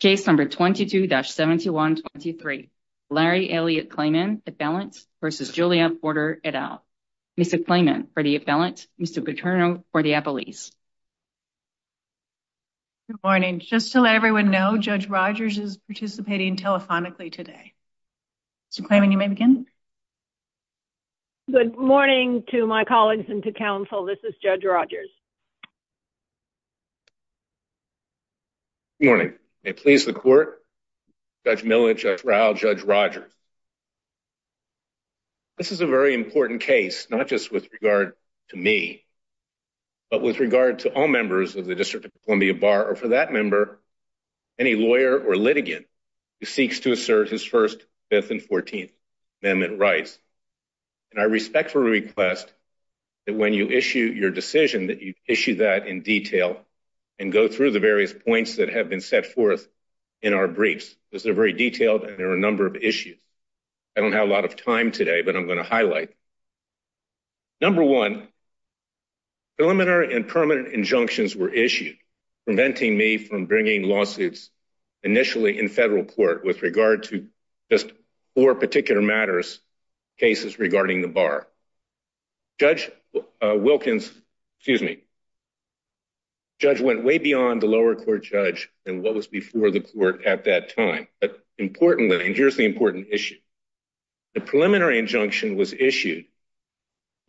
Case number 22-7123. Larry Elliot Klayman, appellant, versus Julia Porter, et al. Mr. Klayman for the appellant, Mr. Paterno for the appellees. Good morning. Just to let everyone know, Judge Rogers is participating telephonically today. Mr. Klayman, you may begin. Good morning to my colleagues and to counsel. This is Judge Rogers. Good morning. May it please the court, Judge Millich, Judge Rowe, Judge Rogers. This is a very important case, not just with regard to me, but with regard to all members of the District of Columbia Bar, or for that member, any lawyer or litigant who seeks to assert his First, Fifth, and Fourteenth Amendment rights. And I respectfully request that when you your decision, that you issue that in detail and go through the various points that have been set forth in our briefs, because they're very detailed and there are a number of issues. I don't have a lot of time today, but I'm going to highlight. Number one, preliminary and permanent injunctions were issued, preventing me from bringing lawsuits initially in federal court with regard to just four particular matters, cases regarding the bar. Judge Wilkins, excuse me, the judge went way beyond the lower court judge and what was before the court at that time. But importantly, and here's the important issue, the preliminary injunction was issued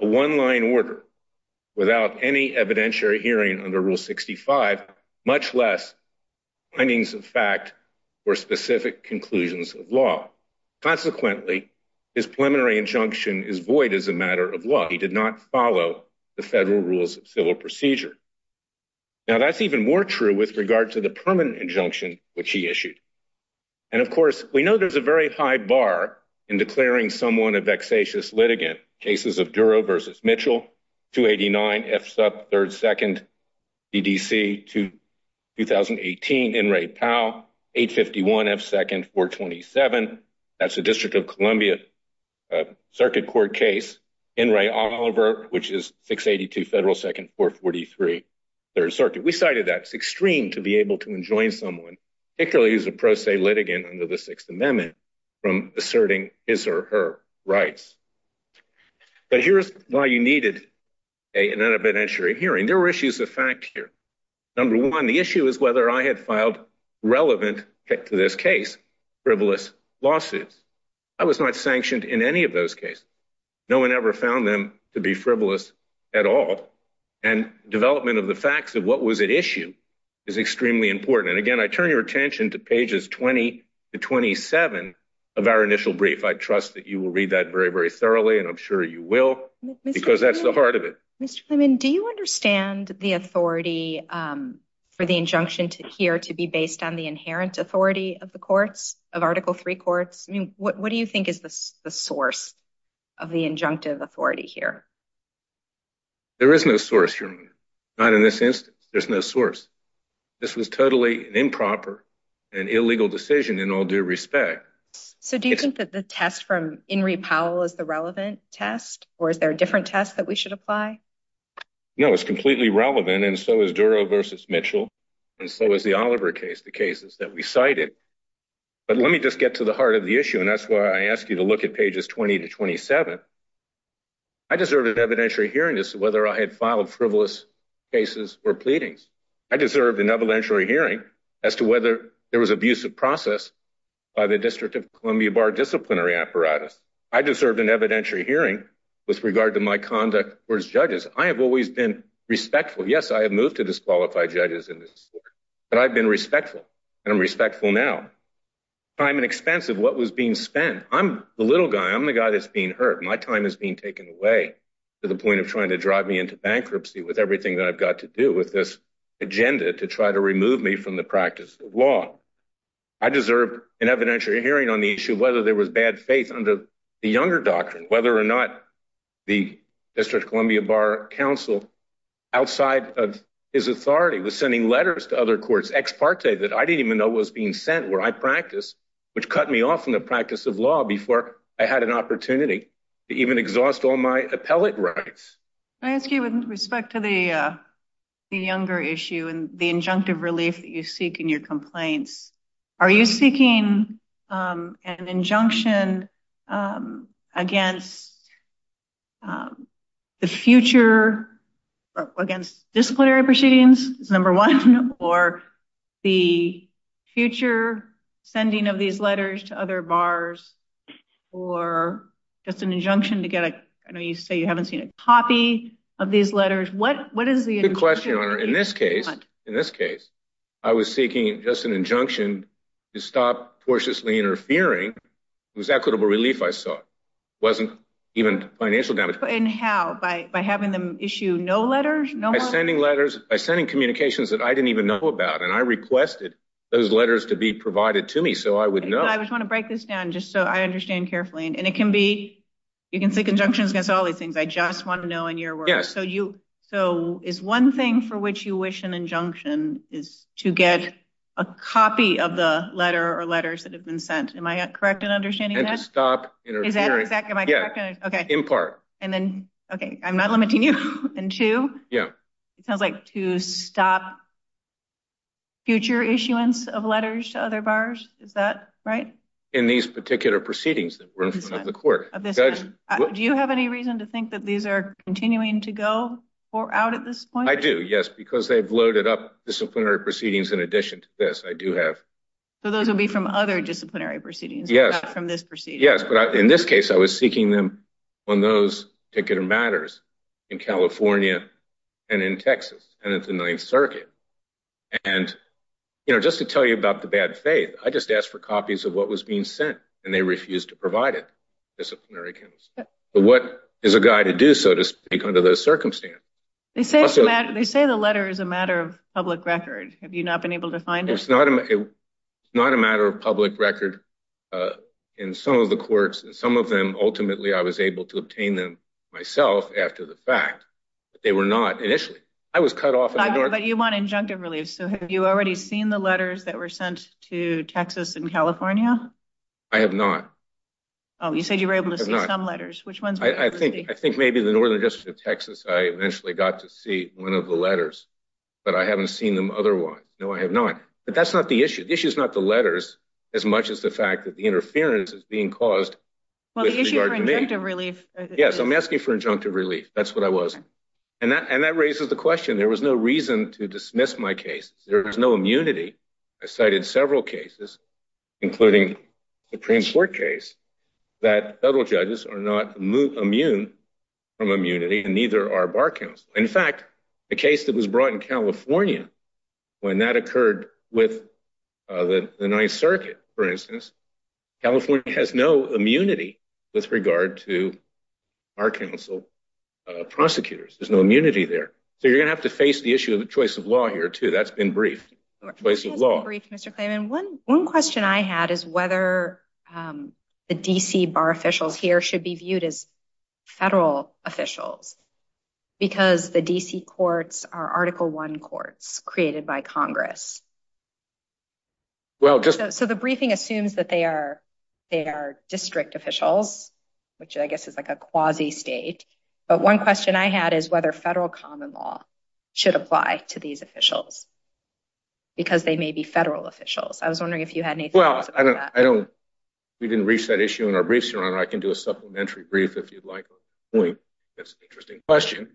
a one-line order without any evidentiary hearing under Rule 65, much less findings of fact or specific conclusions of law. Consequently, his preliminary injunction is void as a matter of law. He did not follow the federal rules of civil procedure. Now, that's even more true with regard to the permanent injunction, which he issued. And of course, we know there's a very high bar in declaring someone a vexatious litigant. Cases of Duro v. Mitchell, 289 F. Sub 3rd 2nd D.D.C. 2018, Enray Powell, 851 F. 2nd 427. That's a District of Columbia Circuit Court case. Enray Oliver, which is 682 Federal 2nd 443 3rd Circuit. We cited that. It's extreme to be able to enjoin someone, particularly as a pro se litigant under the Sixth Amendment, from asserting his or her rights. But here's why you needed an evidentiary hearing. There were issues of fact here. Number one, the issue is whether I had filed relevant to this case frivolous lawsuits. I was not sanctioned in any of those cases. No one ever found them to be frivolous at all. And development of the facts of what was at issue is extremely important. And of our initial brief, I trust that you will read that very, very thoroughly, and I'm sure you will, because that's the heart of it. Mr. Clemon, do you understand the authority for the injunction here to be based on the inherent authority of the courts, of Article III courts? I mean, what do you think is the source of the injunctive authority here? There is no source, Your Honor. Not in this instance. There's no source. This was totally an improper and illegal decision in all due respect. So do you think that the test from Henry Powell is the relevant test, or is there a different test that we should apply? No, it's completely relevant, and so is Duro versus Mitchell, and so is the Oliver case, the cases that we cited. But let me just get to the heart of the issue, and that's why I asked you to look at pages 20 to 27. I deserved an evidentiary hearing as to whether I had filed frivolous cases or pleadings. I deserved an evidentiary hearing as to whether there was abuse of process by the District of Columbia Bar disciplinary apparatus. I deserved an evidentiary hearing with regard to my conduct towards judges. I have always been respectful. Yes, I have moved to disqualify judges in this court, but I've been respectful, and I'm respectful now. Time and expense of what was being spent. I'm the little guy. I'm the guy that's being hurt. My time is being taken away to the point of trying to drive me into bankruptcy with everything that I've got to do with this agenda to try to remove me from the practice of law. I deserve an evidentiary hearing on the issue of whether there was bad faith under the Younger Doctrine, whether or not the District of Columbia Bar counsel, outside of his authority, was sending letters to other courts, ex parte, that I didn't even know was being sent, where I practiced, which cut me off from the opportunity to even exhaust all my appellate rights. Can I ask you, with respect to the Younger issue and the injunctive relief that you seek in your complaints, are you seeking an injunction against the future, against disciplinary proceedings, is number one, or the future sending of these letters to other bars, or just an injunction to get a, I know you say you haven't seen a copy of these letters. What is the injunction? Good question, Your Honor. In this case, in this case, I was seeking just an injunction to stop tortuously interfering. It was equitable relief, I saw. It wasn't even financial damage. And how? By having them issue no letters? By sending communications that I didn't even know about, and I requested those letters to be provided to me, so I would know. I just want to break this down, just so I understand carefully, and it can be, you can seek injunctions against all these things. I just want to know in your words. Yes. So, is one thing for which you wish an injunction is to get a copy of the letter or letters that have been sent. Am I correct in understanding that? And to stop interfering. Is that exactly my question? Yeah. Okay. In part. And then, okay, I'm not limiting you. And two? Yeah. It sounds like to stop future issuance of letters to other buyers. Is that right? In these particular proceedings that were in front of the court. Do you have any reason to think that these are continuing to go out at this point? I do, yes, because they've loaded up disciplinary proceedings in addition to this. I do have. So, those will be from other disciplinary proceedings? Yes. Not from this procedure? Yes, but in this case, I was seeking them on those particular matters in California and in Texas, and it's the Ninth Circuit. And, you know, just to tell you about the bad faith, I just asked for copies of what was being sent, and they refused to provide it, disciplinary counsel. But what is a guy to do, so to speak, under those circumstances? They say the letter is a matter of public record. Have you not been able to find it? It's not a matter of public record. In some of the courts, in some of them, ultimately, I was able to obtain them myself after the fact, but they were not initially. I was cut off. But you want injunctive relief, so have you already seen the letters that were sent to Texas and California? I have not. Oh, you said you were able to see some letters. I think maybe the Northern District of Texas, I eventually got to see one of the letters, but I haven't seen them otherwise. No, I have not. But that's not the issue. The issue is not letters as much as the fact that the interference is being caused. Well, the issue for injunctive relief. Yes, I'm asking for injunctive relief. That's what I was. And that raises the question. There was no reason to dismiss my case. There was no immunity. I cited several cases, including the Supreme Court case, that federal judges are not immune from immunity and neither are the Ninth Circuit, for instance. California has no immunity with regard to our council prosecutors. There's no immunity there. So you're going to have to face the issue of the choice of law here, too. That's been briefed on the choice of law. That's been briefed, Mr. Clayman. One question I had is whether the D.C. bar officials here should be viewed as federal officials, because the D.C. courts are Article I courts created by Congress. Well, just so the briefing assumes that they are they are district officials, which I guess is like a quasi state. But one question I had is whether federal common law should apply to these officials because they may be federal officials. I was wondering if you had any. Well, I don't. We didn't reach that issue in our briefs. Your Honor, I can do a supplementary brief if you'd like. That's an interesting question.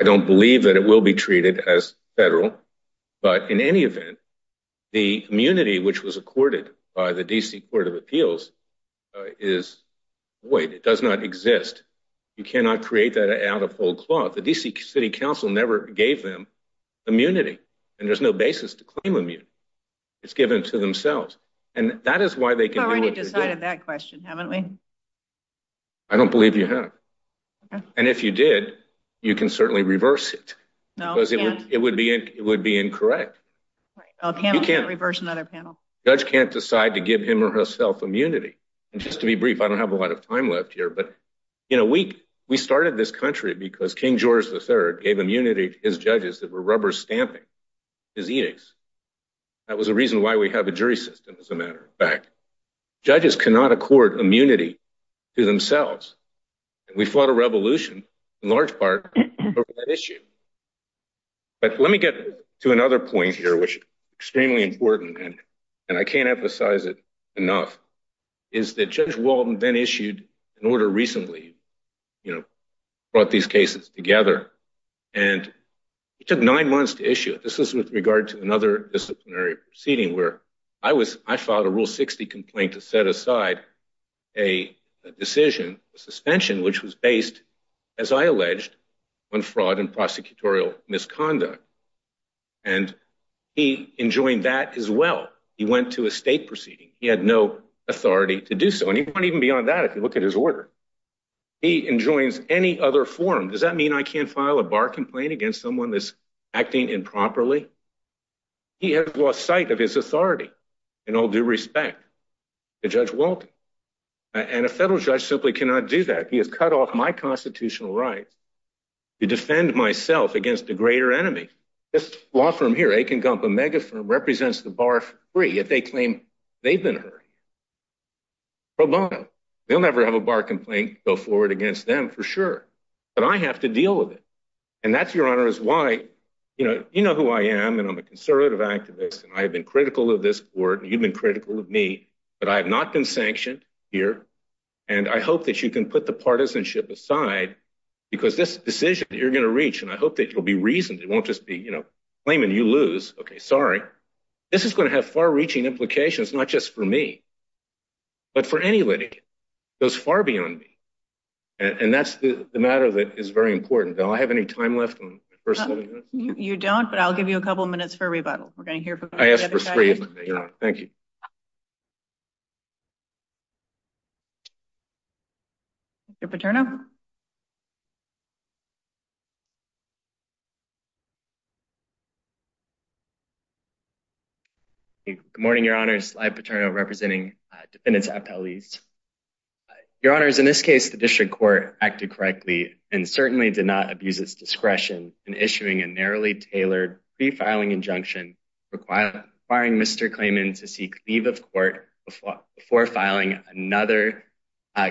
I don't believe that it will be treated as federal, but in any event, the immunity which was accorded by the D.C. Court of Appeals is void. It does not exist. You cannot create that out of whole cloth. The D.C. City Council never gave them immunity. And there's no basis to claim immunity. It's given to themselves. And that is why they can already decided that question, haven't we? I don't believe you have. And if you did, you can certainly reverse it because it would be incorrect. You can't reverse another panel. Judge can't decide to give him or herself immunity. And just to be brief, I don't have a lot of time left here. But, you know, we we started this country because King George III gave immunity to his judges that were rubber stamping his edicts. That was a reason why we have a jury system as a matter of fact. Judges cannot accord immunity to themselves. We fought a revolution, in large part, over that issue. But let me get to another point here, which is extremely important, and I can't emphasize it enough, is that Judge Walden then issued an order recently, you know, brought these cases together. And it took nine months to issue. This is with regard to another disciplinary proceeding where I was, I filed a Rule 60 complaint to set aside a decision, a suspension, which was based, as I alleged, on fraud and prosecutorial misconduct. And he enjoined that as well. He went to a state proceeding. He had no authority to do so. And even beyond that, if you look at his order, he enjoins any other form. Does that mean I can't file a bar complaint against someone that's acting improperly? He has lost sight of his authority, in all due respect, to Judge Walden. And a federal judge simply cannot do that. He has cut off my constitutional rights to defend myself against a greater enemy. This law firm here, Aiken Gump, a mega firm, represents the bar for free if they claim they've been hurt. Pro bono. They'll never have a bar complaint go forward against them, for sure. But I have to deal with it. And that's, Your Honor, is why, you know, you know who I am. And I'm a conservative activist. And I have been critical of this Court. You've been critical of me. But I have not been sanctioned here. And I hope that you can put the partisanship aside. Because this decision that you're going to reach, and I hope that you'll be reasoned. It won't just be, you know, claiming you lose. Okay, sorry. This is going to have far-reaching implications, not just for me, but for any litigant. It goes far beyond me. And that's the matter that is very important. Do I have any time left on my first sentence? You don't, but I'll give you a couple minutes for a rebuttal. We're going to hear from each other. Thank you. Good morning, Your Honor. Sly Paterno, representing defendants at Pelleas. Your Honor, in this case, the District Court acted correctly and certainly did not abuse its discretion in issuing a narrowly tailored pre-filing injunction requiring Mr. Klayman to seek leave of court before filing another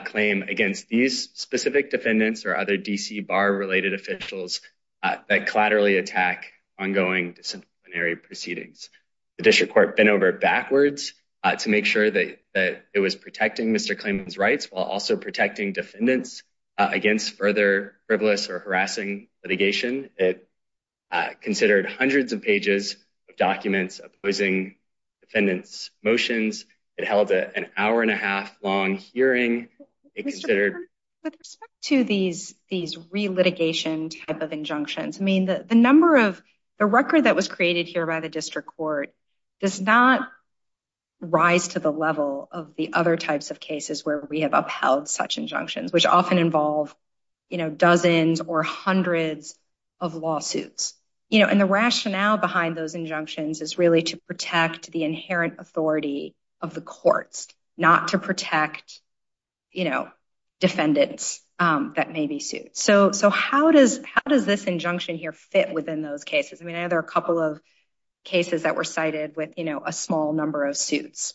claim against these specific defendants or other D.C. bar-related officials that collaterally attack ongoing disciplinary proceedings. The District Court bent over backwards to make sure that it was protecting Mr. Klayman's rights while also litigation. It considered hundreds of pages of documents opposing defendants' motions. It held an hour and a half long hearing. With respect to these re-litigation type of injunctions, I mean, the record that was created here by the District Court does not rise to the level of the other types of cases where we have upheld such injunctions, which often involve, you know, dozens or hundreds of lawsuits. You know, and the rationale behind those injunctions is really to protect the inherent authority of the courts, not to protect, you know, defendants that may be sued. So how does this injunction here fit within those cases? I mean, I know there are a couple of cases that were cited with, you know, a small number of types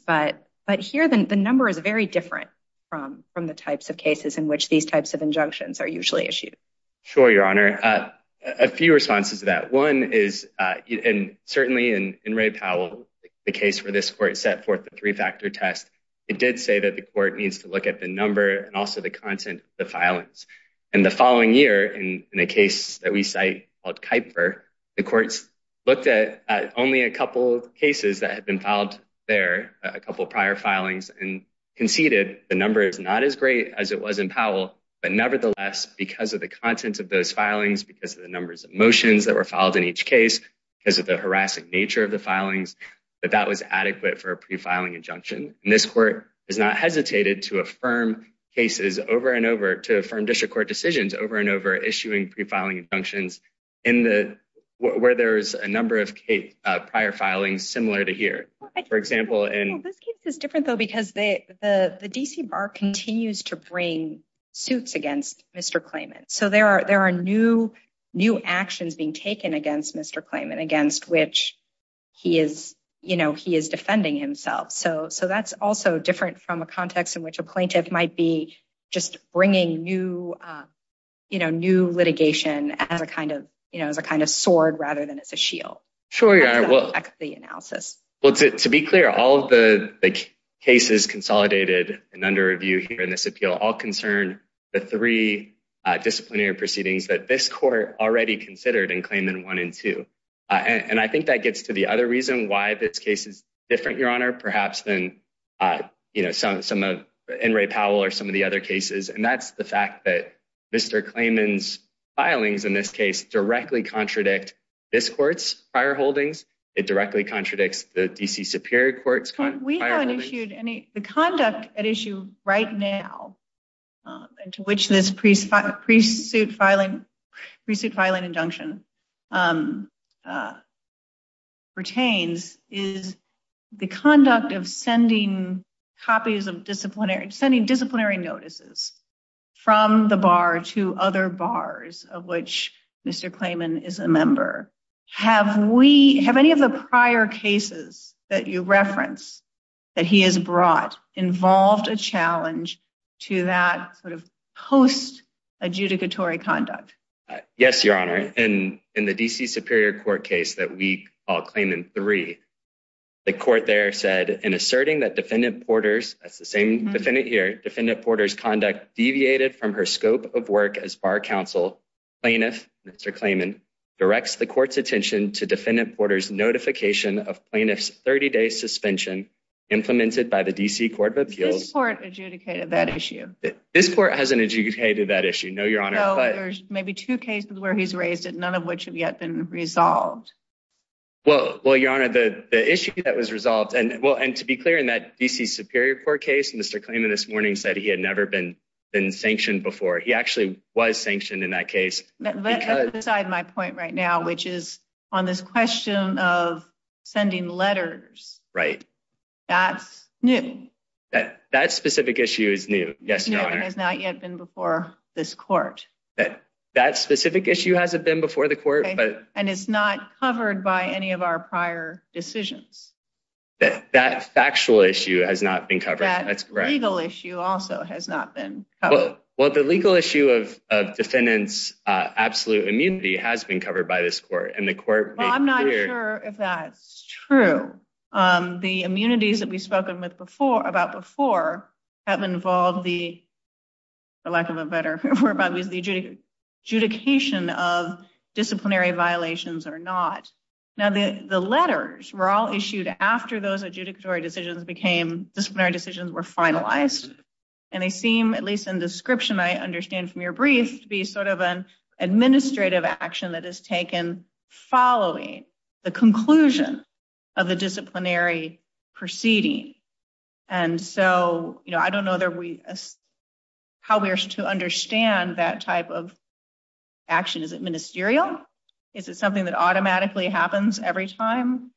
of injunctions are usually issued. Sure, Your Honor. A few responses to that. One is, and certainly in Ray Powell, the case where this court set forth the three-factor test, it did say that the court needs to look at the number and also the content of the filings. And the following year, in a case that we cite called Kuiper, the courts looked at only a couple cases that had been filed there, a couple prior filings, and conceded the number is not as great as it was in Powell, but nevertheless, because of the content of those filings, because of the numbers of motions that were filed in each case, because of the harassing nature of the filings, that that was adequate for a pre-filing injunction. And this court has not hesitated to affirm cases over and over, to affirm district court decisions over and over, issuing pre-filing injunctions in the, where there's a number of prior filings similar to here. For example, this case is different though, because the D.C. Bar continues to bring suits against Mr. Clayman. So there are new actions being taken against Mr. Clayman, against which he is defending himself. So that's also different from a context in which a plaintiff might be just bringing new litigation as a kind of sword rather than as a shield. Sure, Your Honor. Well, to be clear, all of the cases consolidated and under review here in this appeal, all concern the three disciplinary proceedings that this court already considered in Clayman 1 and 2. And I think that gets to the other reason why this case is different, Your Honor, perhaps than, you know, some of, in Ray Powell or some of the other cases. And that's the fact that Mr. Clayman's filings in this case directly contradict this court's prior holdings. It directly contradicts the D.C. Superior Court's prior holdings. We haven't issued any, the conduct at issue right now, and to which this pre-suit filing, pre-suit filing injunction pertains, is the conduct of sending copies of disciplinary, sending disciplinary notices from the bar to other bars of which Mr. Clayman is a member. Have we, have any of the prior cases that you reference that he has brought involved a challenge to that sort of post-adjudicatory conduct? Yes, Your Honor. In the D.C. Superior Court case that we call Clayman 3, the court there in asserting that Defendant Porter's, that's the same defendant here, Defendant Porter's conduct deviated from her scope of work as bar counsel, plaintiff Mr. Clayman directs the court's attention to Defendant Porter's notification of plaintiff's 30-day suspension implemented by the D.C. Court of Appeals. This court adjudicated that issue? This court hasn't adjudicated that issue, no, Your Honor. So there's maybe two cases where he's raised it, none of which have yet been cleared? Well, and to be clear, in that D.C. Superior Court case, Mr. Clayman this morning said he had never been sanctioned before. He actually was sanctioned in that case. Let's decide my point right now, which is on this question of sending letters. Right. That's new. That specific issue is new, yes, Your Honor. It has not yet been before this court. That specific issue hasn't been before the court. And it's not covered by any of our prior decisions. But that factual issue has not been covered. That legal issue also has not been covered. Well, the legal issue of defendant's absolute immunity has been covered by this court. And the court made clear... Well, I'm not sure if that's true. The immunities that we've spoken about before have involved the, for lack of a better word, the adjudication of disciplinary violations or not. Now, the letters were all issued after those adjudicatory decisions became, disciplinary decisions were finalized. And they seem, at least in description I understand from your brief, to be sort of an administrative action that is taken following the conclusion of the disciplinary proceeding. And so I don't know how we are to understand that type of is it something that automatically happens every time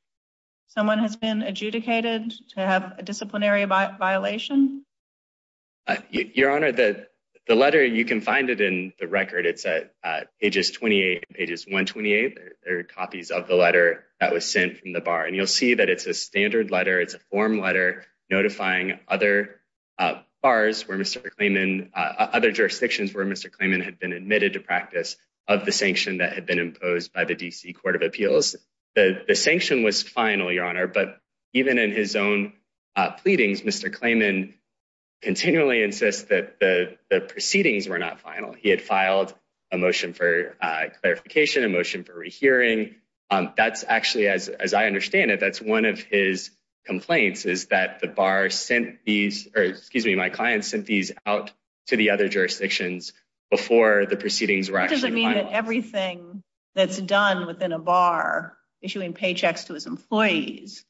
someone has been adjudicated to have a disciplinary violation? Your Honor, the letter, you can find it in the record. It's at pages 28 and pages 128. There are copies of the letter that was sent from the bar. And you'll see that it's a standard letter. It's a form letter notifying other bars where Mr. Klayman, other jurisdictions where Mr. Klayman admitted to practice of the sanction that had been imposed by the D.C. Court of Appeals. The sanction was final, Your Honor, but even in his own pleadings, Mr. Klayman continually insists that the proceedings were not final. He had filed a motion for clarification, a motion for rehearing. That's actually, as I understand it, that's one of his complaints is that the bar sent these, or excuse me, my client sent these out to the other proceedings. That doesn't mean that everything that's done within a bar, issuing paychecks to his employees,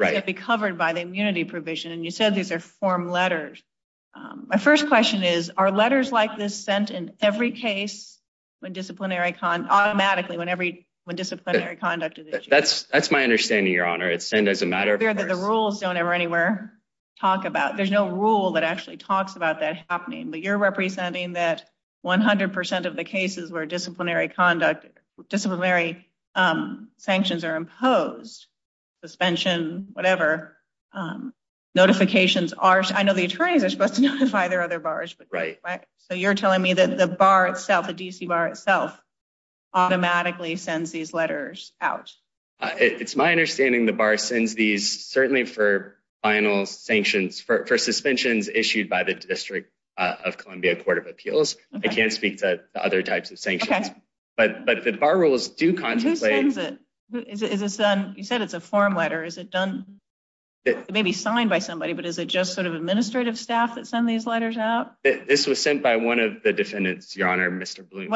should be covered by the immunity provision. And you said these are form letters. My first question is, are letters like this sent in every case when disciplinary, automatically when disciplinary conduct is issued? That's my understanding, Your Honor. It's sent as a matter of course. The rules don't ever anywhere talk about, there's no rule that actually talks about that happening. But you're representing that 100% of the cases where disciplinary conduct, disciplinary sanctions are imposed, suspension, whatever, notifications are, I know the attorneys are supposed to notify their other bars, but right, so you're telling me that the bar itself, the D.C. bar itself, automatically sends these letters out. It's my understanding the final sanctions for suspensions issued by the District of Columbia Court of Appeals. I can't speak to other types of sanctions, but the bar rules do contemplate. Who sends it? You said it's a form letter. Is it done, it may be signed by somebody, but is it just sort of administrative staff that send these letters out? This was sent by one of the defendants, Your Honor, Mr. Bloom.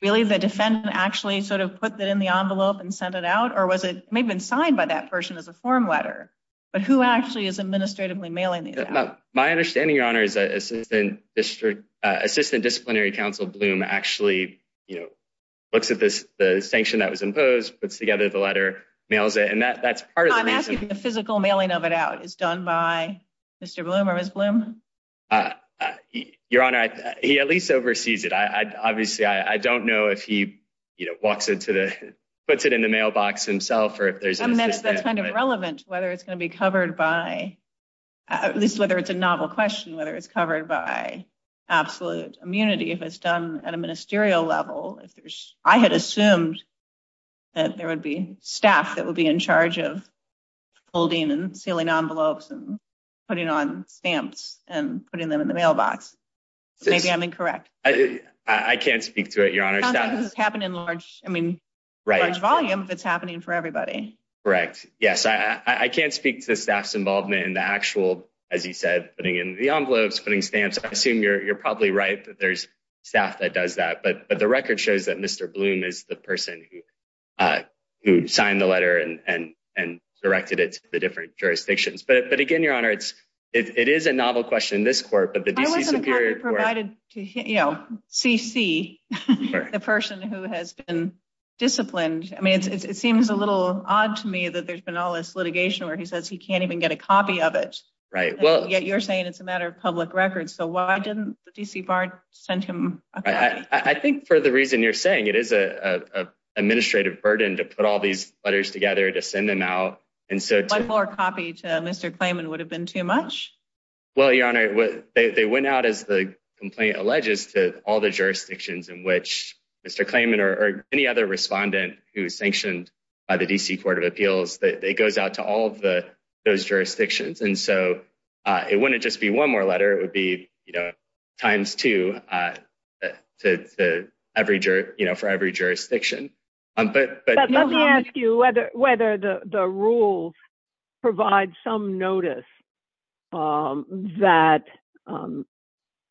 Really, the defendant actually sort of put that in the envelope and sent it out? Or was it, it may have been signed by that person as a form letter, but who actually is administratively mailing these out? My understanding, Your Honor, is that Assistant District, Assistant Disciplinary Counsel Bloom actually, you know, looks at this, the sanction that was imposed, puts together the letter, mails it, and that's part of the reason. I'm asking if the physical mailing of it out is done by Mr. Bloom or Ms. Bloom? Your Honor, he at least oversees it. Obviously, I don't know if he, you know, walks into the, puts it in the mailbox himself or if there's an assistant. That's kind of relevant, whether it's going to be covered by, at least whether it's a novel question, whether it's covered by absolute immunity, if it's done at a ministerial level, if there's, I had assumed that there would be staff that would be in charge of holding and sealing envelopes and putting on stamps and putting them in the mailbox. Maybe I'm incorrect. I can't speak to it, Your Honor. It sounds like this is happening in large, I mean, large volume if it's happening for everybody. Correct. Yes, I can't speak to the staff's involvement in the actual, as you said, putting in the envelopes, putting stamps. I assume you're probably right that there's staff that does that, but the record shows that Mr. Bloom is the person who signed the letter and directed it to the different jurisdictions. But again, Your Honor, it is a novel question in this court, but the D.C. Superior Court. Why wasn't the copy provided to C.C., the person who has been disciplined? I mean, it seems a little odd to me that there's been all this litigation where he says he can't even get a copy of it. Right. Well, yet you're saying it's a matter of public records. So why didn't D.C. Bard send him a copy? I think for the reason you're saying, it is an administrative burden to put all these letters together to send them out. And so one more copy to Mr. Klayman would have been too much. Well, Your Honor, they went out as the complaint alleges to all the jurisdictions in which Mr. Klayman or any other respondent who is sanctioned by the D.C. Court of Appeals that it goes out to all of those jurisdictions. And so it wouldn't just be one more letter. It would be, you know, times two for every jurisdiction. But let me ask you whether the rules provide some notice that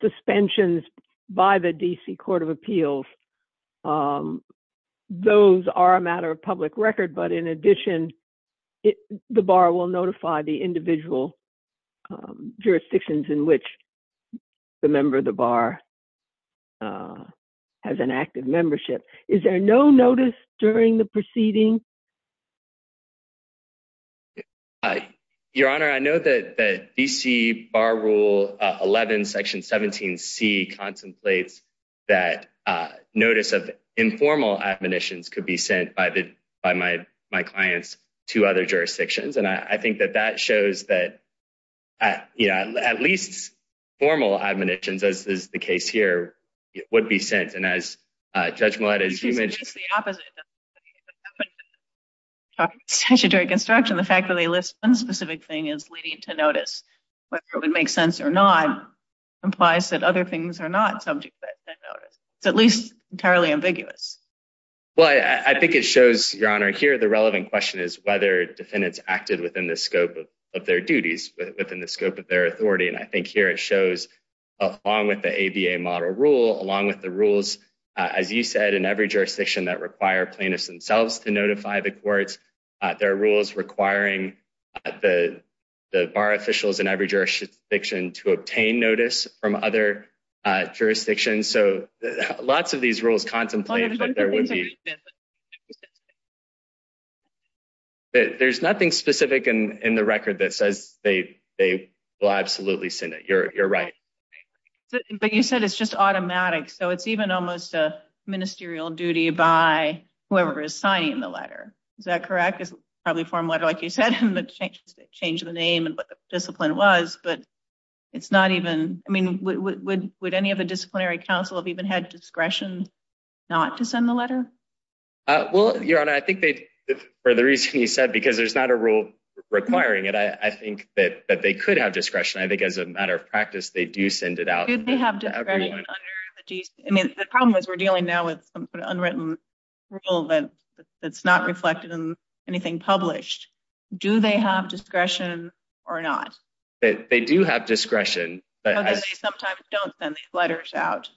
suspensions by the D.C. Court of Appeals, those are a matter of public record. But in addition, it the bar will notify the individual jurisdictions in which the member of the bar has an active membership. Is there no notice during the proceeding? Your Honor, I know that the D.C. Bar Rule 11, Section 17C contemplates that notice of my clients to other jurisdictions. And I think that that shows that, you know, at least formal admonitions, as is the case here, would be sent. And as Judge Millett, as you mentioned, the opposite during construction, the fact that they list one specific thing as leading to notice, whether it would make sense or not, implies that other things are not subject to that notice. It's at least entirely ambiguous. Well, I think it shows, Your Honor, here the relevant question is whether defendants acted within the scope of their duties, within the scope of their authority. And I think here it shows, along with the ABA model rule, along with the rules, as you said, in every jurisdiction that require plaintiffs themselves to notify the courts, there are rules requiring the bar officials in every jurisdiction to obtain notice from other jurisdictions. So lots of these rules contemplate that there would be. There's nothing specific in the record that says they will absolutely send it. You're right. But you said it's just automatic. So it's even almost a ministerial duty by whoever is signing the letter. Is that correct? It's probably a foreign letter, like you said, and they changed the name and what the discipline was, but it's not even, I mean, would any of the disciplinary counsel have even had discretion not to send the letter? Well, Your Honor, I think they, for the reason you said, because there's not a rule requiring it, I think that they could have discretion. I think as a matter of practice, they do send it out. I mean, the problem is we're dealing now with an unwritten rule that's not reflected in anything published. Do they have discretion or not? They do have discretion. But they sometimes don't send these letters out.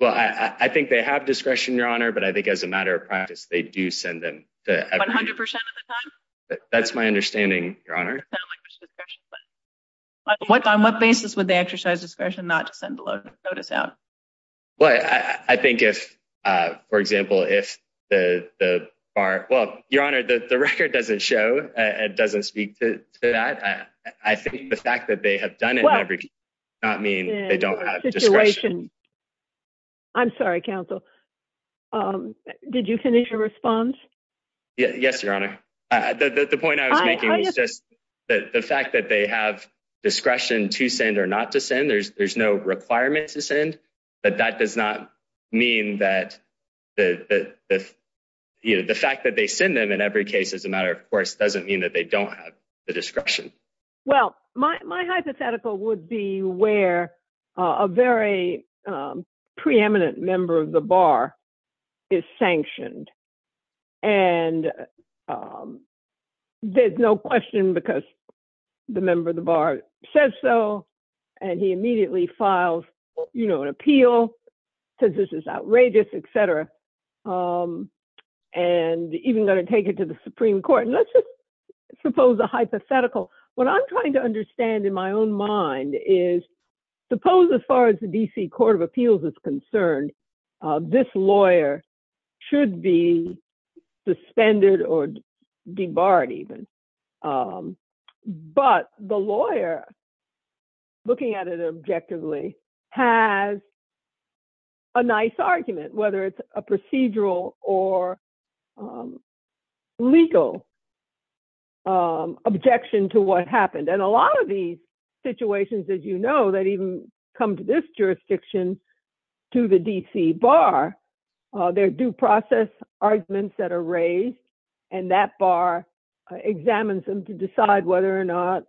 Well, I think they have discretion, Your Honor, but I think as a matter of practice, they do send them. 100% of the time? That's my understanding, Your Honor. On what basis would they exercise discretion not to send the notice out? Well, I think if, for example, if the bar, well, Your Honor, the record doesn't show and doesn't speak to that, I think the fact that they have done it never does not mean they don't have discretion. I'm sorry, counsel. Did you finish your response? Yes, Your Honor. The point I was making was just the fact that they have discretion to send or not to send, there's no requirement to send, but that does not mean that the fact that they send them in every case as a matter of course doesn't mean that they don't have the discretion. Well, my hypothetical would be where a very preeminent member of the bar is sanctioned, and there's no question because the member of the bar says so, and he immediately files an appeal, says this is outrageous, et cetera, and even going to take it to the Supreme Court. Let's just suppose a hypothetical. What I'm trying to understand in my own mind is suppose as far as the D.C. Court of Appeals is concerned, this lawyer should be suspended or debarred even, but the lawyer looking at it objectively has a nice argument, whether it's a procedural or legal objection to what happened. And a lot of these situations, as you know, that even come to this jurisdiction to the D.C. bar, they're due process arguments that are raised, and that bar examines them to decide whether or not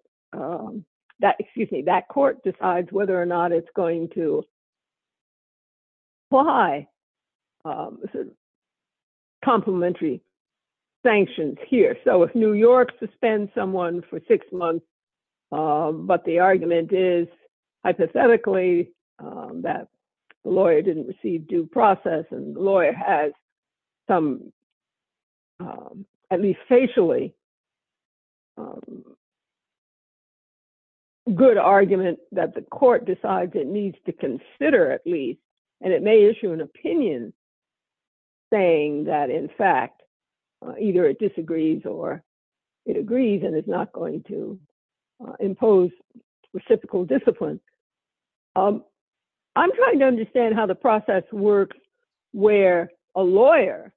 that, excuse me, that court decides whether or not it's going to apply complementary sanctions here. So if New York suspends someone for six months, but the argument is hypothetically that the lawyer didn't receive due process and the lawyer has some, at least facially, a good argument that the court decides it needs to consider, at least, and it may issue an opinion saying that, in fact, either it disagrees or it agrees and it's not going to impose reciprocal discipline. I'm trying to understand how the process works where a lawyer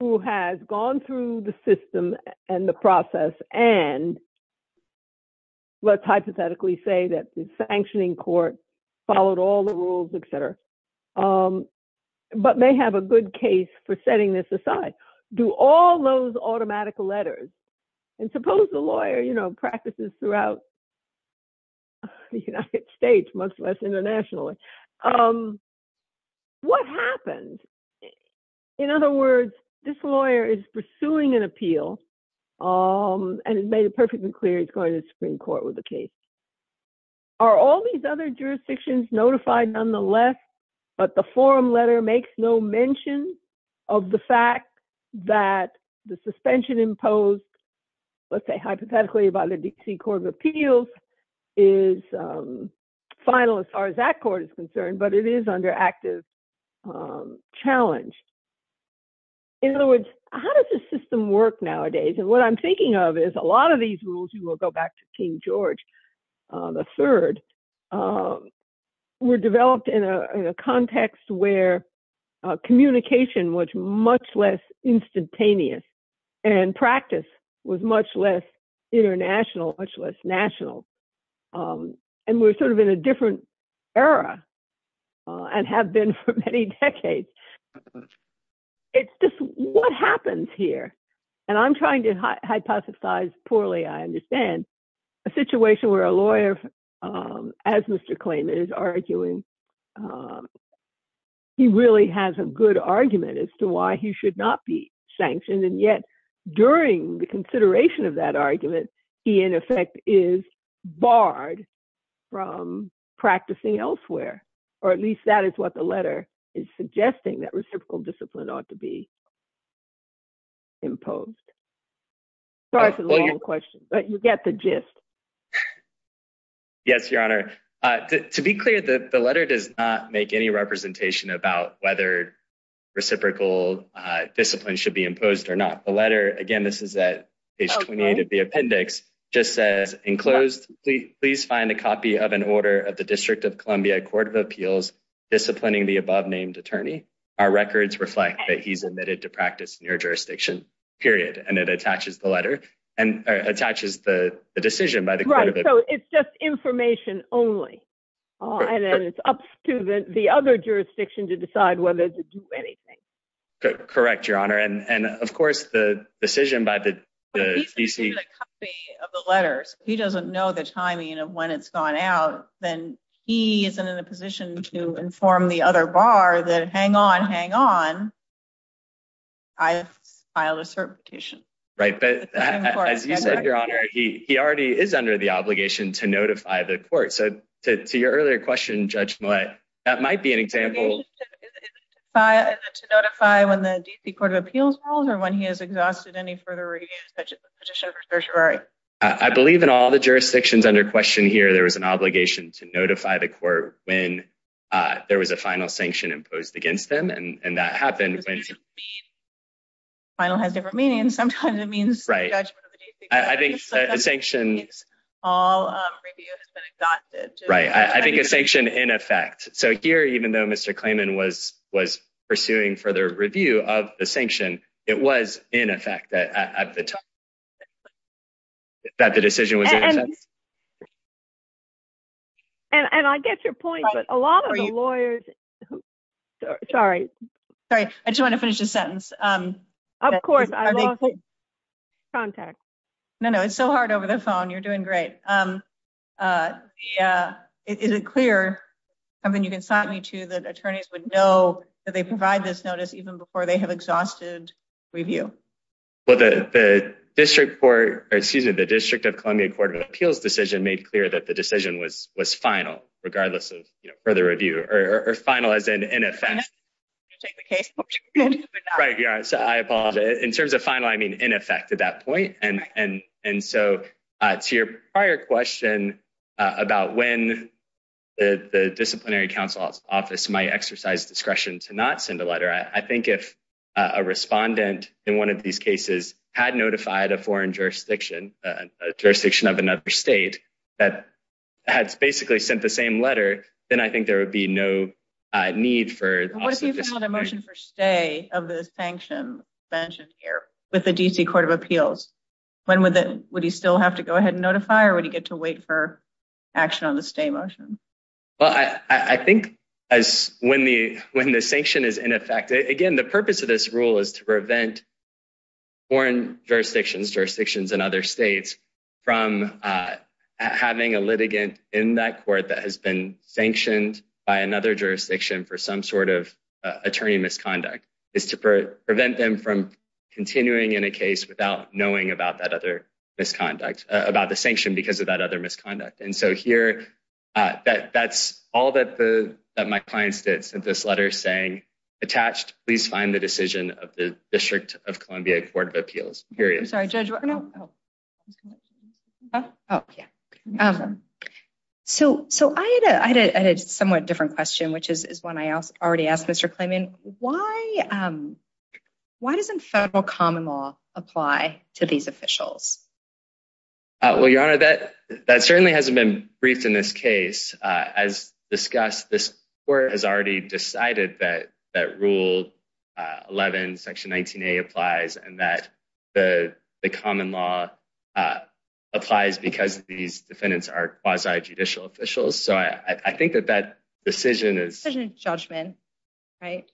who has gone through the system and the process and let's hypothetically say that the sanctioning court followed all the rules, et cetera, but may have a good case for setting this aside. Do all those automatic letters, and suppose the lawyer practices throughout the United States, much less internationally. What happens? In other words, this lawyer is pursuing an appeal and has made it perfectly clear he's going to the Supreme Court with the case. Are all these other jurisdictions notified nonetheless, but the forum letter makes no mention of the fact that the suspension imposed, let's say hypothetically by the D.C. Court of Appeals, is final as far as that court is concerned, but it is under active challenge. In other words, how does this system work nowadays? What I'm thinking of is a lot of these rules, we will go back to King George III, were developed in a context where communication was much less instantaneous and practice was much less international, much less national, and we're sort of in a different era and have been for many decades. It's just what happens here, and I'm trying to hypothesize poorly, I understand, a situation where a lawyer, as Mr. Klayman is arguing, he really has a good argument as to he should not be sanctioned, and yet during the consideration of that argument, he in effect is barred from practicing elsewhere, or at least that is what the letter is suggesting, that reciprocal discipline ought to be imposed. Sorry for the long question, but you get the gist. Yes, Your Honor. To be clear, the letter does not make any representation about whether reciprocal discipline should be imposed or not. The letter, again, this is at page 28 of the appendix, just says, enclosed, please find a copy of an order of the District of Columbia Court of Appeals disciplining the above-named attorney. Our records reflect that he's admitted to practice near-jurisdiction, period, and it attaches the letter, and attaches the decision by the Court of Appeals. Right, so it's just information only, and then it's up to the other jurisdiction to decide whether to do anything. Correct, Your Honor, and of course the decision by the D.C. He doesn't know the timing of when it's gone out, then he isn't in a position to inform the other bar that hang on, hang on, I've filed a certification. Right, but as you said, Your Honor, he already is under the obligation to notify the when the D.C. Court of Appeals rolls, or when he has exhausted any further reviews, such as the petition for certiorari. I believe in all the jurisdictions under question here, there was an obligation to notify the court when there was a final sanction imposed against them, and that happened when final has different meanings, sometimes it means the judgment of the D.C. Court of Appeals. I think a sanction all review has been exhausted. Right, I think a sanction in effect. So here, even though Mr. Clayman was pursuing further review of the sanction, it was in effect at the time that the decision was in effect. And I get your point, but a lot of the lawyers, sorry, sorry, I just want to finish this sentence. Of course, I lost contact. No, no, it's so hard over the phone, you're doing great. Is it clear, something you can cite me to that attorneys would know that they provide this notice even before they have exhausted review? Well, the District Court, or excuse me, the District of Columbia Court of Appeals decision made clear that the decision was was final, regardless of, you know, further review, or final as in effect. Right, yeah, so I apologize. In terms of final, I mean in effect at that point, and so to your discretion to not send a letter, I think if a respondent in one of these cases had notified a foreign jurisdiction, a jurisdiction of another state, that had basically sent the same letter, then I think there would be no need for... What if you filed a motion for stay of the sanction mentioned here with the D.C. Court of Appeals? Would you still have to go ahead and notify, or would you get to wait for action on the stay motion? Well, I think when the sanction is in effect, again, the purpose of this rule is to prevent foreign jurisdictions, jurisdictions in other states, from having a litigant in that court that has been sanctioned by another jurisdiction for some sort of attorney misconduct. It's to prevent them from of that other misconduct. And so here, that's all that my client sent this letter saying, attached, please find the decision of the District of Columbia Court of Appeals, period. I'm sorry, Judge, what? Oh, yeah. So I had a somewhat different question, which is one I already asked Mr. Klayman. Why doesn't federal common law apply to these officials? Well, Your Honor, that certainly hasn't been briefed in this case. As discussed, this court has already decided that Rule 11, Section 19A applies, and that the common law applies because these defendants are quasi-judicial officials. So I think that that decision is... It's a judgment, right?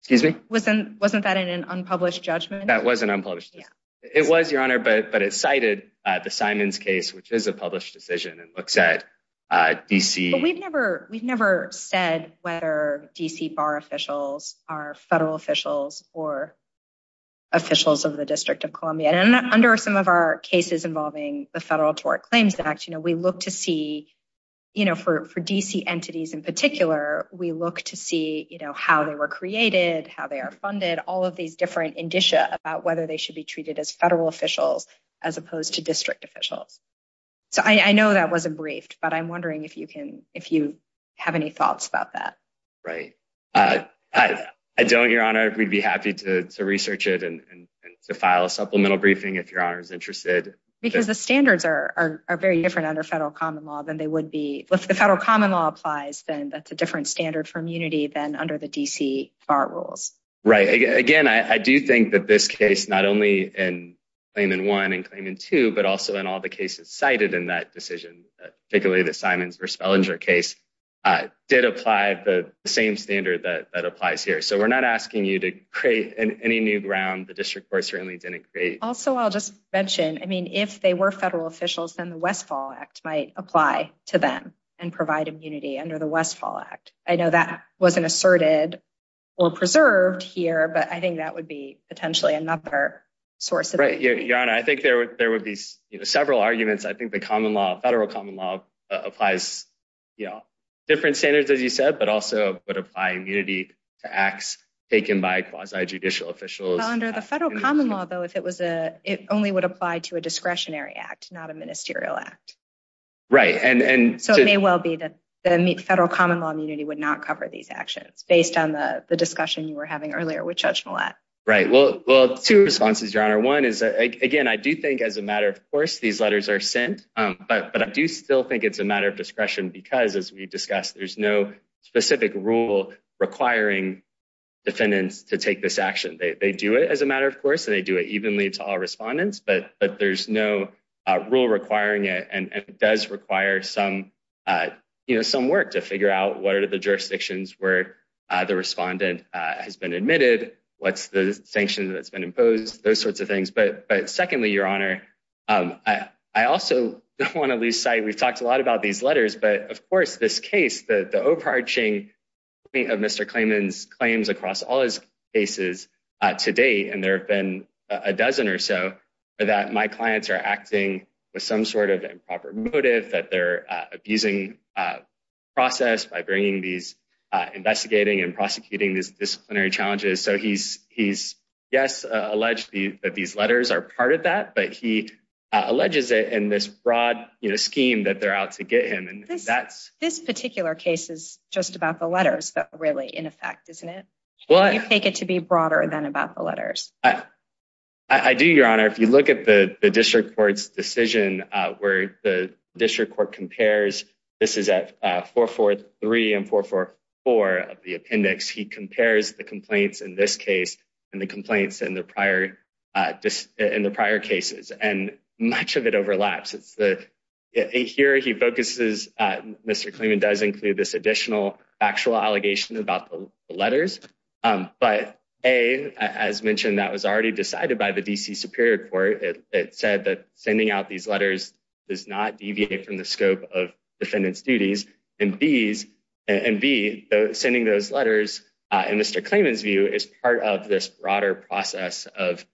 Excuse me? Wasn't that in an unpublished judgment? That was an unpublished decision. It was, Your Honor, but it cited the Simons case, which is a published decision and looks at D.C. But we've never said whether D.C. bar officials are federal officials or officials of the District of Columbia. And under some of our cases involving the Federal Tort Claims Act, we look to see, for D.C. entities in particular, we look to see how they were created, how they are funded, all of these different indicia about whether they should be treated as federal officials as opposed to district officials. So I know that wasn't briefed, but I'm wondering if you have any thoughts about that. Right. I don't, Your Honor. We'd be happy to research it and to file a supplemental briefing if Your Honor is interested. Because the standards are very different under federal common law than they would be... If the federal common law applies, then that's a different standard for immunity than under the D.C. bar rules. Right. Again, I do think that this case, not only in Claimant 1 and Claimant 2, but also in all the cases cited in that decision, particularly the Simons v. Bellinger case, did apply the same standard that applies here. So we're not asking you to create any new ground the district court certainly didn't create. Also, I'll just mention, I mean, if they were federal officials, then the Westfall Act might apply to them and provide immunity under the D.C. Act. Right. Your Honor, I think there would be several arguments. I think the federal common law applies different standards, as you said, but also would apply immunity to acts taken by quasi-judicial officials. Well, under the federal common law, though, it only would apply to a discretionary act, not a ministerial act. Right. So it may well be that the federal common law immunity would not cover these actions based on the discussion you were having earlier with Judge Millett. Right. Well, two responses, Your Honor. One is, again, I do think as a matter of course, these letters are sent, but I do still think it's a matter of discretion because, as we discussed, there's no specific rule requiring defendants to take this action. They do it as a matter of course, and they do it evenly to all respondents, but there's no rule requiring it. And it does require some work to figure out what are the jurisdictions where the respondent has been admitted, what's the sanction that's been imposed, those sorts of things. But secondly, Your Honor, I also don't want to lose sight. We've talked a lot about these letters, but of course this case, the overarching of Mr. Klayman's claims across all his cases to date, and there have been a dozen or that my clients are acting with some sort of improper motive, that they're abusing process by bringing these, investigating and prosecuting these disciplinary challenges. So he's, yes, alleged that these letters are part of that, but he alleges it in this broad scheme that they're out to get him. This particular case is just about the letters that are really in effect, isn't it? Well, I take it to be broader than about the letters. I do, Your Honor. If you look at the district court's decision where the district court compares, this is at 443 and 444 of the appendix, he compares the complaints in this case and the complaints in the prior cases. And much of it overlaps. It's the, here he focuses, Mr. Klayman does include this additional factual allegation about the letters. But A, as mentioned, that was already decided by the DC Superior Court. It said that sending out these letters does not deviate from the scope of defendant's duties. And B, sending those letters in Mr. Klayman's view is part of this broader process of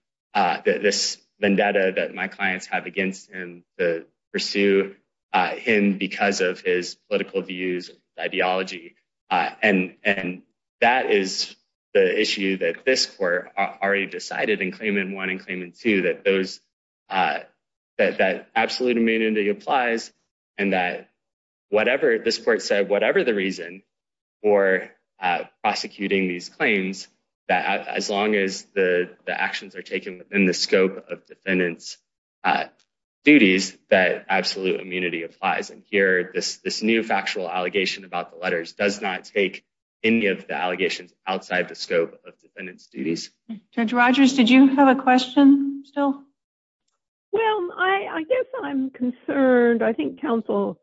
this vendetta that my clients have against him to pursue him because of his political views, ideology. And that is the issue that this court already decided in Klayman 1 and Klayman 2, that those, that absolute immunity applies and that whatever this court said, whatever the reason for prosecuting these claims, that as long as the actions are taken within the this new factual allegation about the letters does not take any of the allegations outside the scope of defendant's duties. Judge Rogers, did you have a question still? Well, I guess I'm concerned. I think counsel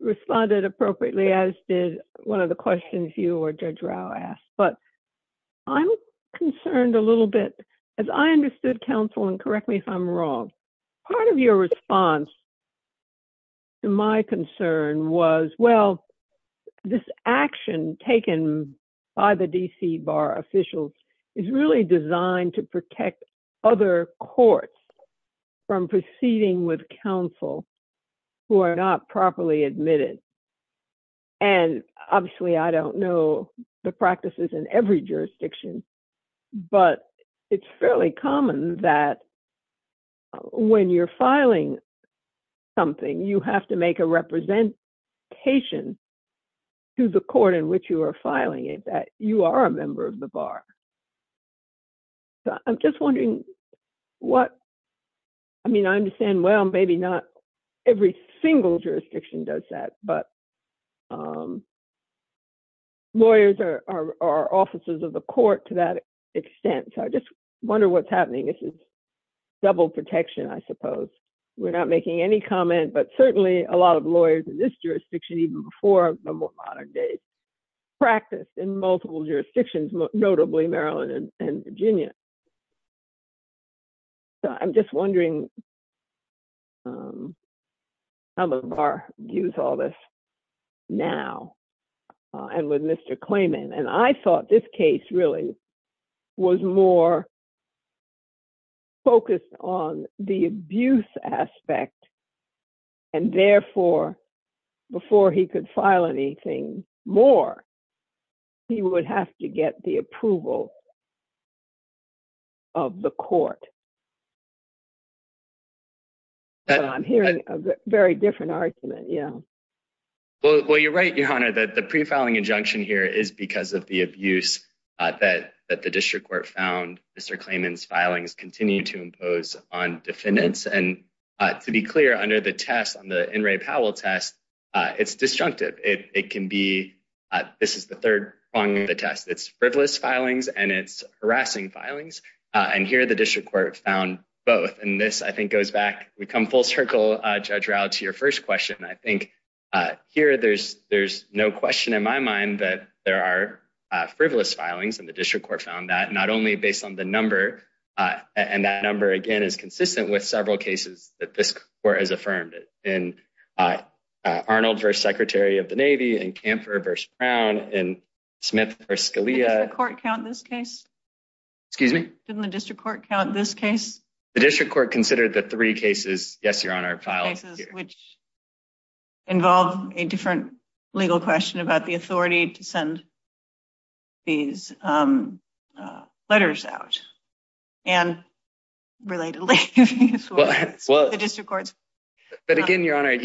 responded appropriately as did one of the questions you or Judge Rau asked. But I'm concerned a little bit, as I understood counsel and correct me if I'm wrong, part of your concern was, well, this action taken by the DC bar officials is really designed to protect other courts from proceeding with counsel who are not properly admitted. And obviously, I don't know the practices in every jurisdiction, but it's fairly common that when you're filing something, you have to make a representation to the court in which you are filing it that you are a member of the bar. I'm just wondering what, I mean, I understand, well, maybe not every single jurisdiction does that, but lawyers are officers of the court to that extent. So I wonder what's happening. This is double protection, I suppose. We're not making any comment, but certainly a lot of lawyers in this jurisdiction, even before the modern day, practice in multiple jurisdictions, notably Maryland and Virginia. So I'm just wondering how the bar views all this now and with Mr. Klayman. And I thought this case really was more focused on the abuse aspect. And therefore, before he could file anything more, he would have to get the approval of the court. So I'm hearing a very different argument, yeah. Well, you're right, Your Honor, that the pre-filing injunction here is because of the abuse that the district court found Mr. Klayman's filings continue to impose on defendants. And to be clear, under the test on the In re Powell test, it's disjunctive. It can be, this is the third on the test, it's frivolous filings and it's harassing filings. And here, the district court found both. And this I think goes back, we come full circle, Judge Raud, to your first question. I think here, there's no question in my mind that there are frivolous filings and the district court found that not only based on the number, and that number, again, is consistent with several cases that this court has affirmed. In Arnold v. Secretary of the Navy, in Camper v. Brown, in Smith v. Scalia. Didn't the court count this case? Excuse me? Didn't the district court count this case? The district court considered the three cases, yes, Your Honor, filed here. Which involved a different legal question about the authority to send these letters out. And relatedly, the district court's... But again, Your Honor, if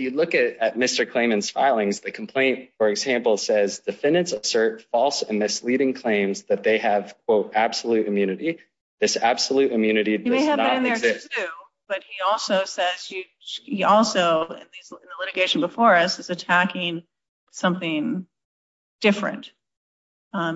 you look at Mr. Klayman's filings, the complaint, for example, defendants assert false and misleading claims that they have, quote, absolute immunity. This absolute immunity does not exist. You may have that in there too, but he also says, he also, in the litigation before us, is attacking something different.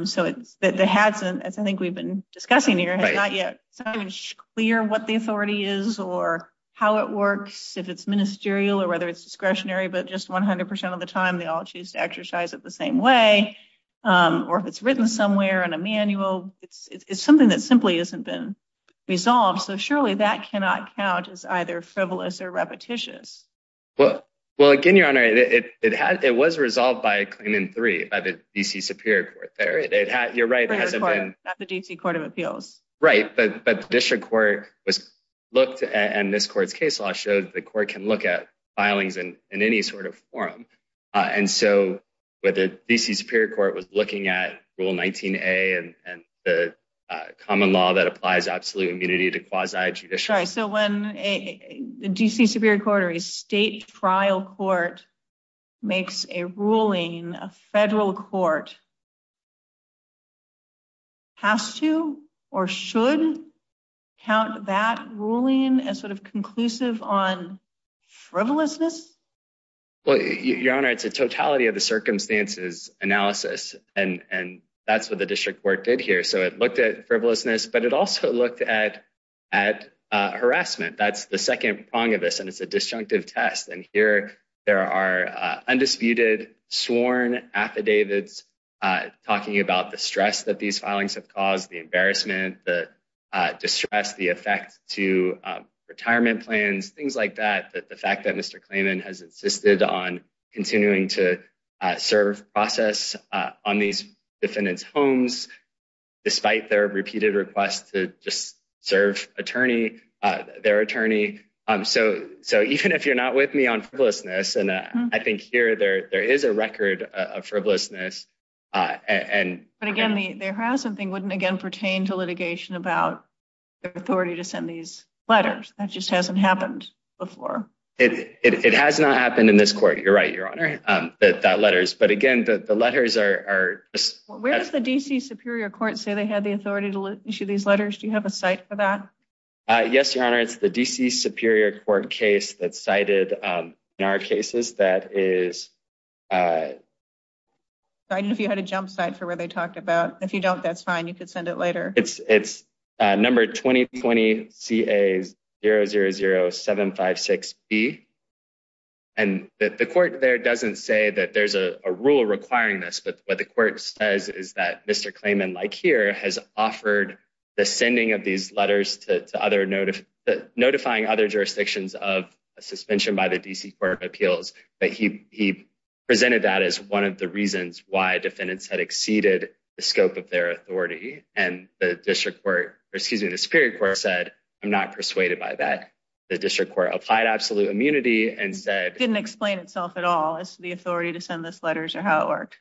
So it's, the Hadson, as I think we've been discussing here, has not yet gotten clear what the authority is or how it works, if it's ministerial or whether it's discretionary, but just 100% of the time, they all choose to exercise it the same way, or if it's written somewhere in a manual, it's something that simply hasn't been resolved. So surely that cannot count as either frivolous or repetitious. Well, again, Your Honor, it was resolved by Klayman III, by the DC Superior Court there. You're right, it hasn't been... The DC Court of Appeals. Right, but the district court was looked at and this court's case law showed the court can look at filings in any sort of forum. And so the DC Superior Court was looking at Rule 19A and the common law that applies absolute immunity to quasi-judicial... Right, so when a DC Superior Court or a state trial court makes a ruling, a federal court has to, or should, count that ruling as sort of conclusive on frivolousness? Well, Your Honor, it's a totality of the circumstances analysis, and that's what the district court did here. So it looked at frivolousness, but it also looked at harassment. That's the second prong of this, and it's a disjunctive test. And here there are undisputed, sworn affidavits talking about the stress that these filings have caused, the embarrassment, the distress, the effect to retirement plans, things like that. The fact that Mr. Klayman has insisted on continuing to serve process on these defendants' homes, despite their repeated requests to just serve attorney, their attorney. So even if you're not with me on frivolousness, I think here there is a record of frivolousness. But again, the harassment thing wouldn't, again, pertain to litigation about the authority to send these letters. That just hasn't happened before. It has not happened in this court. You're right, Your Honor, that letters. But again, the letters are... Where does the DC Superior Court say they had the authority to issue these letters? Do you have a site for that? Yes, Your Honor. It's the DC Superior Court case that's cited in our cases that is... I don't know if you had a jump site for where they talked about. If you don't, that's fine. You could send it later. It's number 2020 CA 000756B. And the court there doesn't say that there's a rule requiring this, but what the court says is that Mr. Klayman, like here, has offered the sending of these letters notifying other jurisdictions of suspension by the DC Court of Appeals. But he presented that as one of the reasons why defendants had exceeded the scope of their authority. And the Superior Court said, I'm not persuaded by that. The District Court applied absolute immunity and said... Didn't explain itself at all as to the authority to send those letters or how it worked.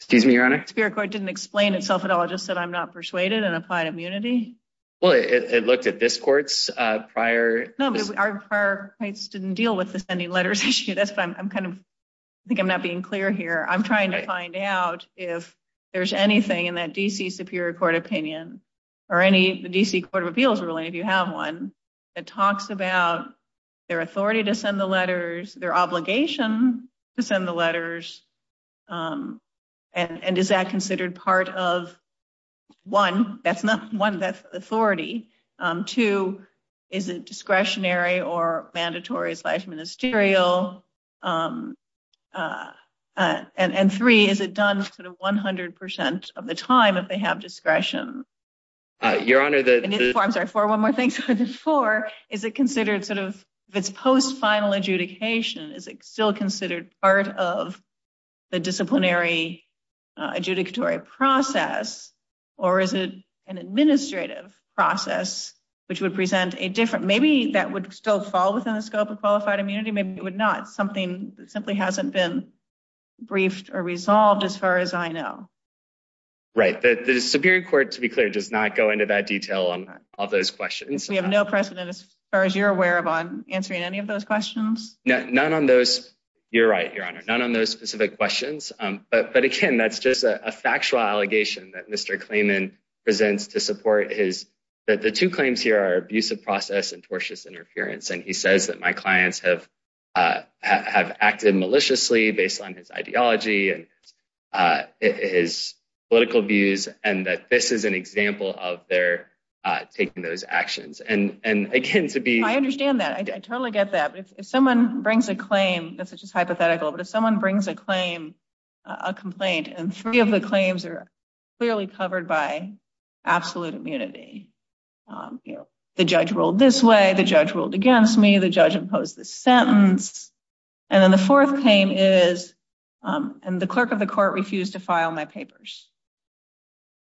Excuse me, Your Honor? Superior Court didn't explain itself at all. It just said, I'm not persuaded and applied immunity. Well, it looked at this court's prior... No, but our prior case didn't deal with the sending letters issue. That's what I'm kind of... I think I'm not being clear here. I'm trying to find out if there's anything in that DC Superior Court opinion or any DC Court of Appeals ruling, if you have one, that talks about their authority to send the letters, their obligation to send the letters. And is that considered part of, one, that's not one, that's authority. Two, is it discretionary or mandatory slash ministerial? And three, is it done sort of 100% of the time if they have discretion? Your Honor, the... I'm sorry, one more thing. Four, is it considered sort of, if it's post-final adjudication, is it still considered part of the disciplinary adjudicatory process or is it an administrative process which would present a different... Maybe that would still fall within the scope of qualified immunity. Maybe it would not. Something that simply hasn't been briefed or resolved as far as I know. Right. The Superior Court, to be clear, does not go into that detail on all those questions. We have no precedent as far as you're aware of on answering any of those questions? None on those... You're right, Your Honor. None on those specific questions. But again, that's just a factual allegation that Mr. Klayman presents to support his... That the two claims here are abusive process and tortious interference. And he says that my clients have acted maliciously based on his ideology and his political views and that this is an example of their taking those actions. And again, to be... That's just hypothetical, but if someone brings a complaint and three of the claims are clearly covered by absolute immunity, the judge ruled this way, the judge ruled against me, the judge imposed this sentence. And then the fourth claim is, and the clerk of the court refused to file my papers.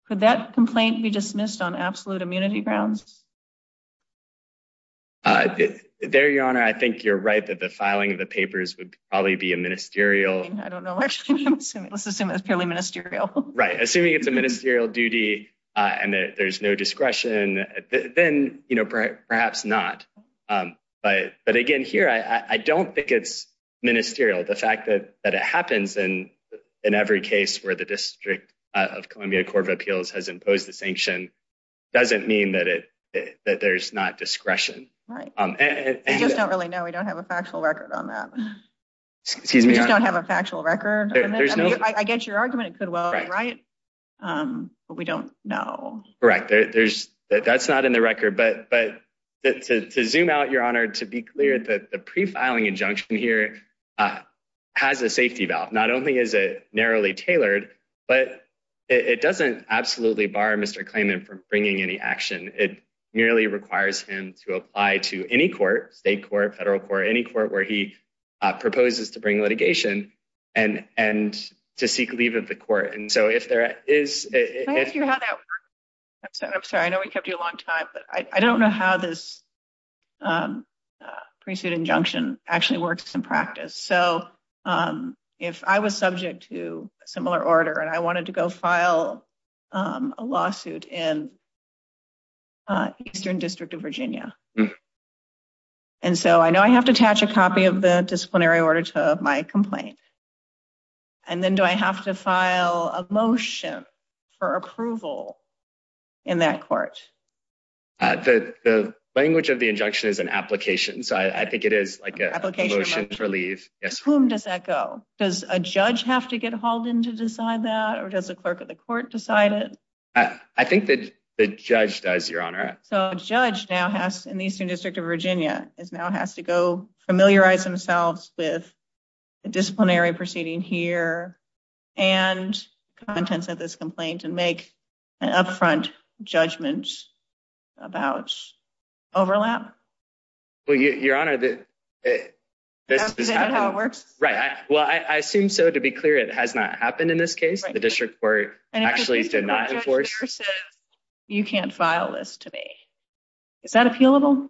Could that complaint be dismissed on absolute immunity grounds? There, Your Honor, I think you're right that the filing of the papers would probably be a ministerial... I don't know. Actually, let's assume it's purely ministerial. Right. Assuming it's a ministerial duty and there's no discretion, then perhaps not. But again, here, I don't think it's ministerial. The fact that it happens in every case where the District of Columbia Court of Appeals has imposed the sanction doesn't mean that there's not discretion. Right. We just don't really know. We don't have a factual record on that. Excuse me, Your Honor? We just don't have a factual record. I get your argument. It could well be right, but we don't know. Correct. That's not in the record. But to zoom out, Your Honor, to be clear, the prefiling injunction here has a safety valve. Not only is it narrowly tailored, but it doesn't absolutely bar Mr. Klayman from bringing any action. It merely requires him to apply to any court, state court, federal court, any court where he proposes to bring litigation and to seek leave of the court. And so if there is... Can I ask you how that works? I'm sorry. I know we kept you a long time, but I don't know how this similar order. And I wanted to go file a lawsuit in Eastern District of Virginia. And so I know I have to attach a copy of the disciplinary order to my complaint. And then do I have to file a motion for approval in that court? The language of the injunction is an application. So I think it is like a motion to leave. Whom does that go? Does a judge have to get hauled in to decide that, or does the clerk of the court decide it? I think that the judge does, Your Honor. So a judge now has, in the Eastern District of Virginia, now has to go familiarize themselves with the disciplinary proceeding here and contents of this complaint and make an upfront judgment about overlap. Well, Your Honor, this is how it works. Right. Well, I assume so, to be clear, it has not happened in this case. The district court actually did not enforce. You can't file this to me. Is that appealable?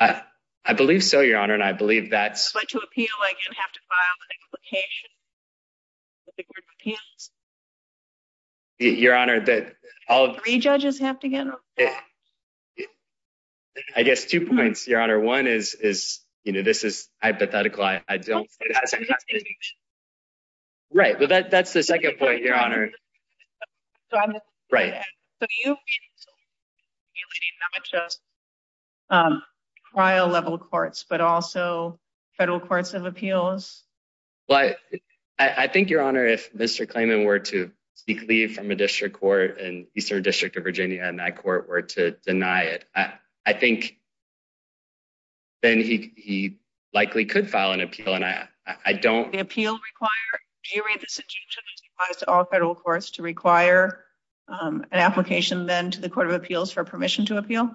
I believe so, Your Honor. And I believe that's... But to appeal, I can have to file an application. With the court of appeals? Your Honor, that all... Three judges have to get on the case? I guess two points, Your Honor. One is, you know, this is hypothetical. I don't... Right. Well, that's the second point, Your Honor. Right. So you've been sort of dealing not just trial-level courts, but also I think, Your Honor, if Mr. Klayman were to speak leave from a district court in Eastern District of Virginia and that court were to deny it, I think then he likely could file an appeal. And I don't... The appeal require... Do you read this injunction as applies to all federal courts to require an application then to the court of appeals for permission to appeal?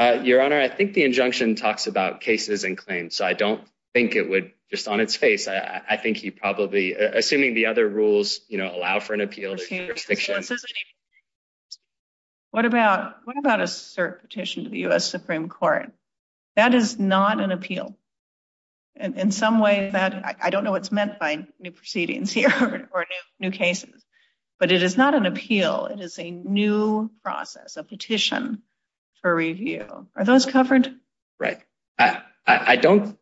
Your Honor, I think the injunction talks about cases and claims. So I don't think it would... Just on its face, I think he probably... Assuming the other rules, you know, allow for an appeal... What about a cert petition to the U.S. Supreme Court? That is not an appeal. In some way that... I don't know what's meant by new proceedings here or new cases, but it is not an appeal. It is a new process, a petition for review. Are those covered? Right. I don't...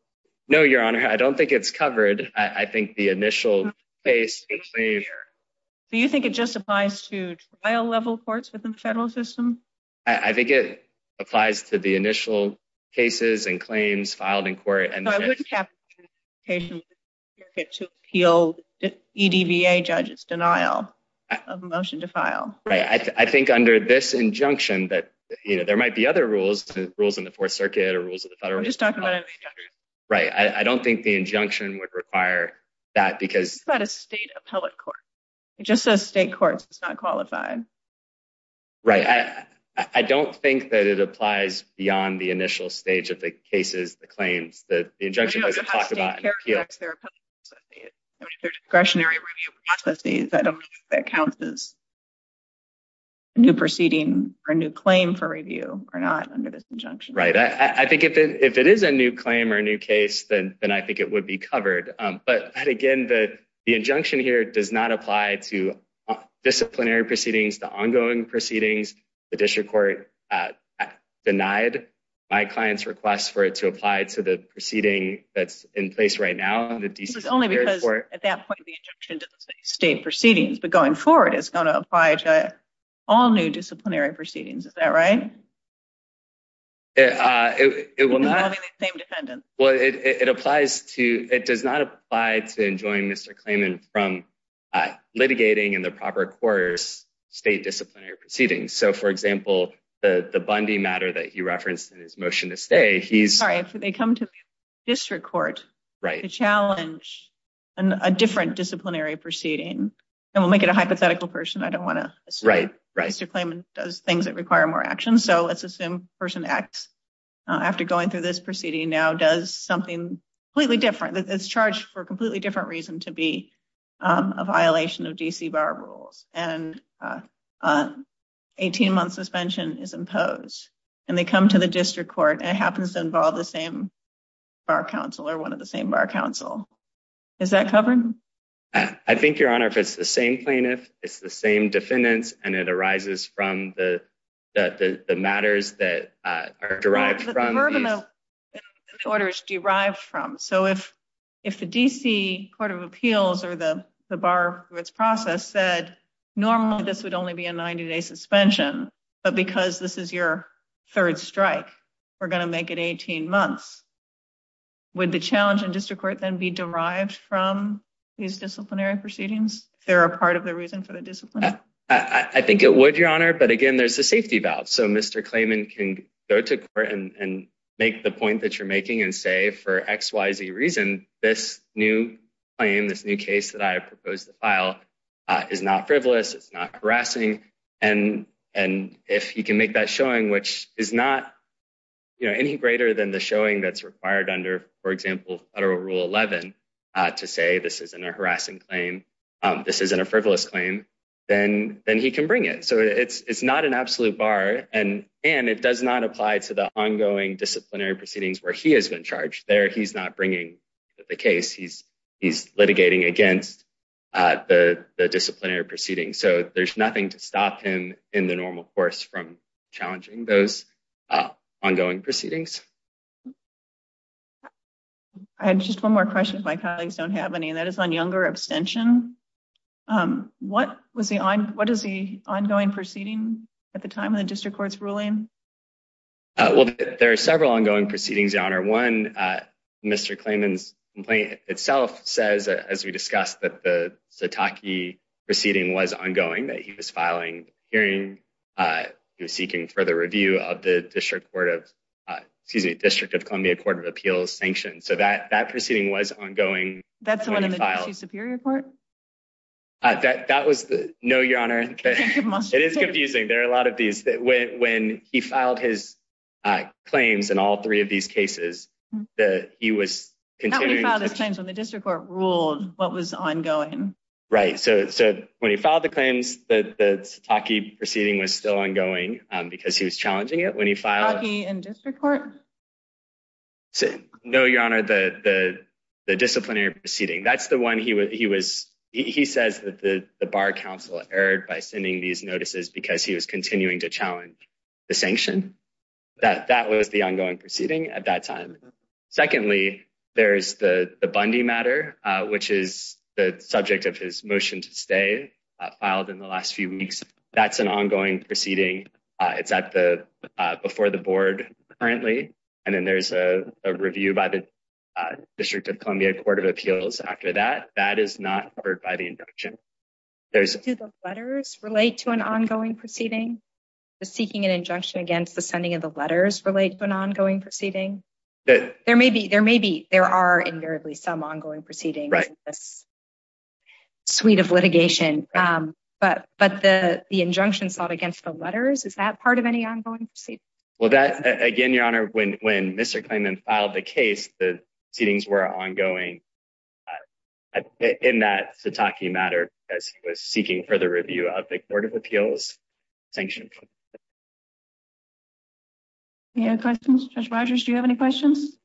No, Your Honor, I don't think it's covered. I think the initial case... Do you think it just applies to trial-level courts within the federal system? I think it applies to the initial cases and claims filed in court and... So I wouldn't have an application to appeal EDVA judges' denial of a motion to file. Right. I think under this injunction that, you know, there might be other rules, rules in the Fourth Circuit or rules of the federal... We're just talking about an injunction. Right. I don't think the injunction would require that because... What about a state appellate court? It just says state courts. It's not qualified. Right. I don't think that it applies beyond the initial stage of the cases, the claims. The injunction doesn't talk about an appeal. I don't know how state characterizes their appellate courts. I mean, if they're discretionary review processes, I don't think that counts as a new proceeding or a new claim for review or not under this injunction. Right. I think if it is a new claim or a new case, then I think it would be covered. But again, the injunction here does not apply to disciplinary proceedings, the ongoing proceedings. The district court denied my client's request for it to apply to the proceeding that's in place right now in the D.C. Superior Court. It's only because at that point, the injunction doesn't say state proceedings. But going forward, it's going to apply to all new disciplinary proceedings. Is that right? Well, it does not apply to enjoining Mr. Klayman from litigating in the proper courts state disciplinary proceedings. So for example, the Bundy matter that he referenced in his motion Sorry, if they come to the district court to challenge a different disciplinary proceeding, and we'll make it a hypothetical person. I don't want to assume Mr. Klayman does things that require more action. So let's assume person X, after going through this proceeding now, does something completely different. It's charged for a completely different reason to be a violation of D.C. bar rules. And an 18-month suspension is imposed. And they come to the district court, and it happens to involve the same bar counsel or one of the same bar counsel. Is that covered? I think, Your Honor, if it's the same plaintiff, it's the same defendants, and it arises from the matters that are derived from the orders derived from. So if the D.C. Court of Appeals or the bar for its process said, normally, this would only be a 90-day suspension. But because this is your third strike, we're going to make it 18 months. Would the challenge in district court then be derived from these disciplinary proceedings? If they're a part of the reason for the discipline? I think it would, Your Honor. But again, there's a safety valve. So Mr. Klayman can go to court and make the point that you're making and say, for X, Y, Z reason, this new claim, this new case that I proposed to file is not frivolous, it's not harassing. And if he can make that showing, which is not any greater than the showing that's required under, for example, Federal Rule 11, to say this isn't a harassing claim, this isn't a frivolous claim, then he can bring it. So it's not an absolute bar. And it does not apply to the ongoing disciplinary proceedings where he has been charged. There, he's not bringing the case. He's litigating against the disciplinary proceedings. So there's nothing to stop him in the normal course from challenging those ongoing proceedings. I had just one more question. My colleagues don't have any, and that is on younger abstention. What was the ongoing proceeding at the time of the district court's ruling? Well, there are several ongoing proceedings, Your Honor. One, Mr. Klayman's complaint itself says, as we discussed, that the Sitaki proceeding was ongoing, that he was filing a hearing. He was seeking further review of the District Court of, excuse me, District of Columbia Court of Appeals sanctions. So that proceeding was ongoing. That's the one in the DC Superior Court? That was the, no, Your Honor. It is confusing. There are a lot of these. When he filed his claims in all three of these cases, he was continuing to- The district court ruled what was ongoing. Right. So when he filed the claims, the Sitaki proceeding was still ongoing because he was challenging it. When he filed- Sitaki and district court? No, Your Honor. The disciplinary proceeding. That's the one he was, he says that the bar counsel erred by sending these notices because he was continuing to challenge the sanction. That was the ongoing proceeding at that time. Secondly, there's the Bundy matter, which is the subject of his motion to stay, filed in the last few weeks. That's an ongoing proceeding. It's at the, before the board currently. And then there's a review by the District of Columbia Court of Appeals after that. That is not heard by the injunction. Do the letters relate to an ongoing proceeding? The seeking an injunction against the sending of the letters relate to an ongoing proceeding? There may be, there are invariably some ongoing proceedings in this suite of litigation, but the injunction sought against the letters, is that part of any ongoing proceedings? Well, again, Your Honor, when Mr. Klingman filed the case, the proceedings were ongoing at, in that Sataki matter, as he was seeking further review of the Court of Appeals sanction. Any other questions? Judge Rogers, do you have any questions?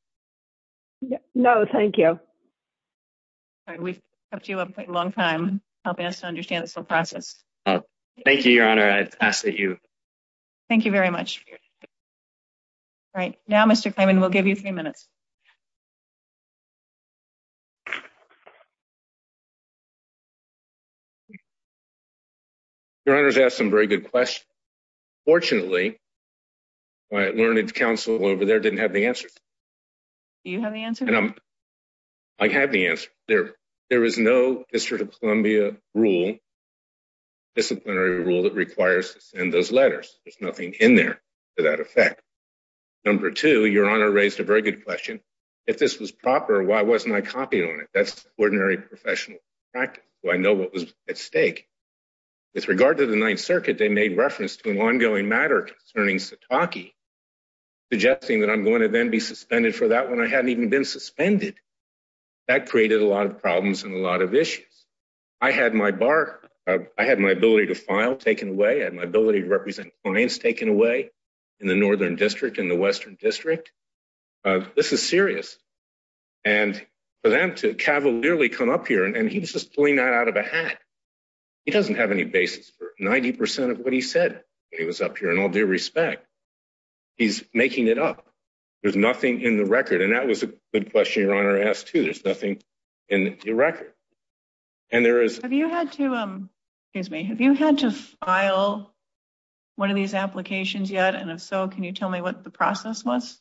No, thank you. All right. We've kept you up quite a long time, helping us to understand this whole process. Thank you, Your Honor. I ask that you. Thank you very much. All right. Now, Mr. Klingman, we'll give you three minutes. Your Honor's asked some very good questions. Fortunately, my learned counsel over there didn't have the answers. Do you have the answer? I have the answer. There is no District of Columbia rule, disciplinary rule that requires to send those letters. There's nothing in there to that effect. Number two, Your Honor raised a good question. If this was proper, why wasn't I copied on it? That's ordinary professional practice. I know what was at stake. With regard to the Ninth Circuit, they made reference to an ongoing matter concerning Sataki, suggesting that I'm going to then be suspended for that when I hadn't even been suspended. That created a lot of problems and a lot of issues. I had my ability to file taken away. I had my ability to represent clients taken away in the Northern District and the Western District. This is serious. For them to cavalierly come up here, and he was just pulling that out of a hat. He doesn't have any basis for 90% of what he said when he was up here, in all due respect. He's making it up. There's nothing in the record. That was a good question Your Honor asked, too. There's nothing in the record. Have you had to file one of these applications yet? If so, can you tell me what the process was?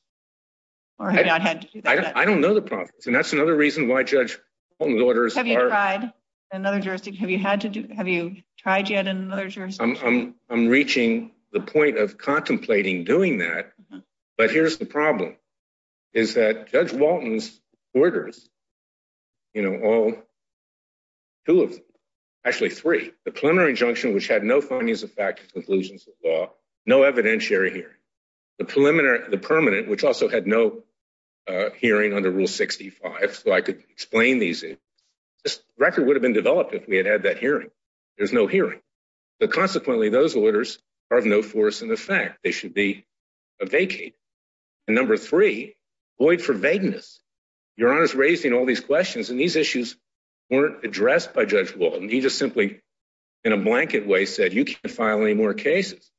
I don't know the process. That's another reason why Judge Walton's orders are- Have you tried in another jurisdiction? Have you tried yet in another jurisdiction? I'm reaching the point of contemplating doing that, but here's the problem. Judge Walton's orders, all two of them, actually three. The preliminary injunction, which had no findings of fact and conclusions of law, no evidentiary hearing. The permanent, which also had no hearing under Rule 65, so I could explain these. This record would have been developed if we had had that hearing. There's no hearing. Consequently, those orders are of no force in effect. They raised all these questions, and these issues weren't addressed by Judge Walton. He just simply, in a blanket way, said you can't file any more cases.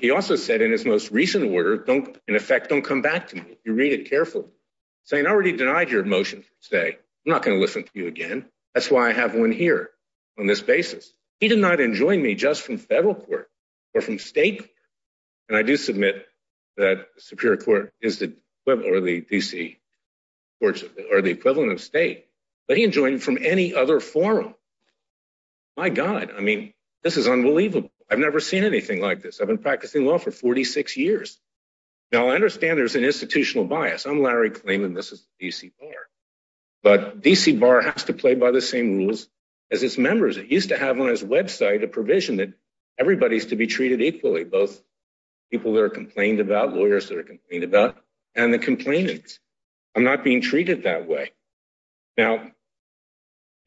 He also said in his most recent order, in effect, don't come back to me. You read it carefully. I already denied your motion today. I'm not going to listen to you again. That's why I have one here on this basis. He did not enjoin me just from federal court or from state court. I do submit that the Superior Court or the DC courts are the equivalent of state, but he enjoined from any other forum. My God, I mean, this is unbelievable. I've never seen anything like this. I've been practicing law for 46 years. Now, I understand there's an institutional bias. I'm Larry Klainman. This is the DC Bar, but DC Bar has to play by the same rules as its members. It used to have on its website a provision that everybody's to be treated equally, both people that are complained about, lawyers that are complained about, and the complainants. I'm not being treated that way. Now,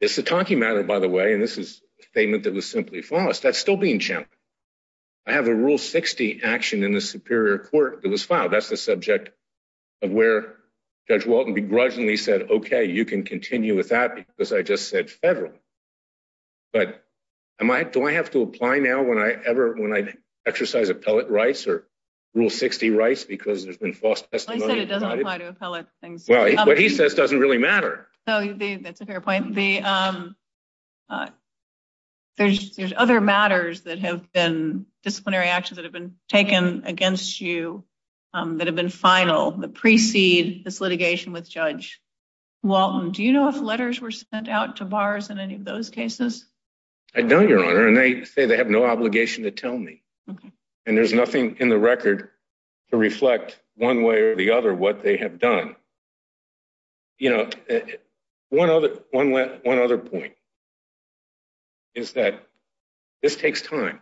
this is a talking matter, by the way, and this is a statement that was simply false. That's still being challenged. I have a Rule 60 action in the Superior Court that was filed. That's the subject of where Judge Walton begrudgingly said, okay, you can continue with that because I just said federal, but do I have to apply now when I exercise appellate rights or Rule 60 rights because there's been false testimony? I said it doesn't apply to appellate things. Well, what he says doesn't really matter. That's a fair point. There's other matters that have been disciplinary actions that have been taken against you that have been final that precede this case. I don't, Your Honor, and they say they have no obligation to tell me, and there's nothing in the record to reflect one way or the other what they have done. You know, one other point is that this takes time.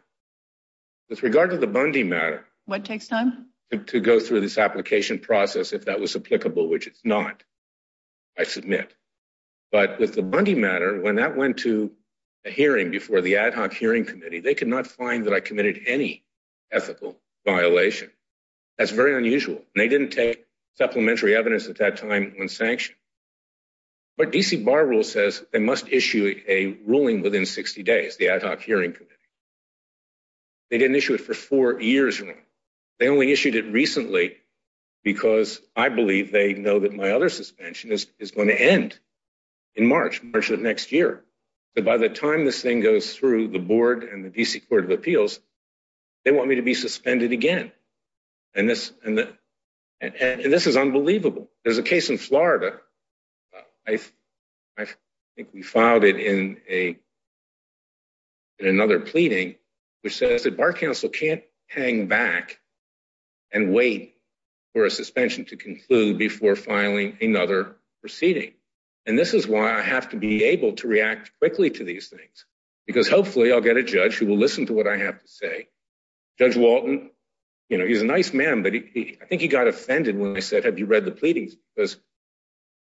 With regard to the Bundy matter, what takes time to go through this application process, if that was applicable, which it's not, I submit. But with the Bundy matter, when that went to a hearing before the Ad Hoc Hearing Committee, they could not find that I committed any ethical violation. That's very unusual. They didn't take supplementary evidence at that time when sanctioned. But D.C. Bar Rules says they must issue a ruling within 60 days, the Ad Hoc Hearing Committee. They didn't issue it for the next year. By the time this thing goes through the board and the D.C. Court of Appeals, they want me to be suspended again. And this is unbelievable. There's a case in Florida, I think we filed it in another pleading, which says that Bar Counsel can't hang back and wait for a suspension to conclude before filing another proceeding. And this is why I have to be able to react quickly to these things. Because hopefully I'll get a judge who will listen to what I have to say. Judge Walton, he's a nice man, but I think he got offended when I said, have you read the pleadings? Because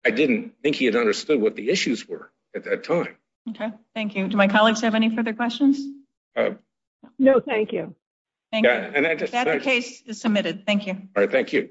I didn't think he had understood what the issues were at that time. Okay, thank you. Do my colleagues have any further questions? No, thank you. That case is submitted. Thank you. All right, thank you.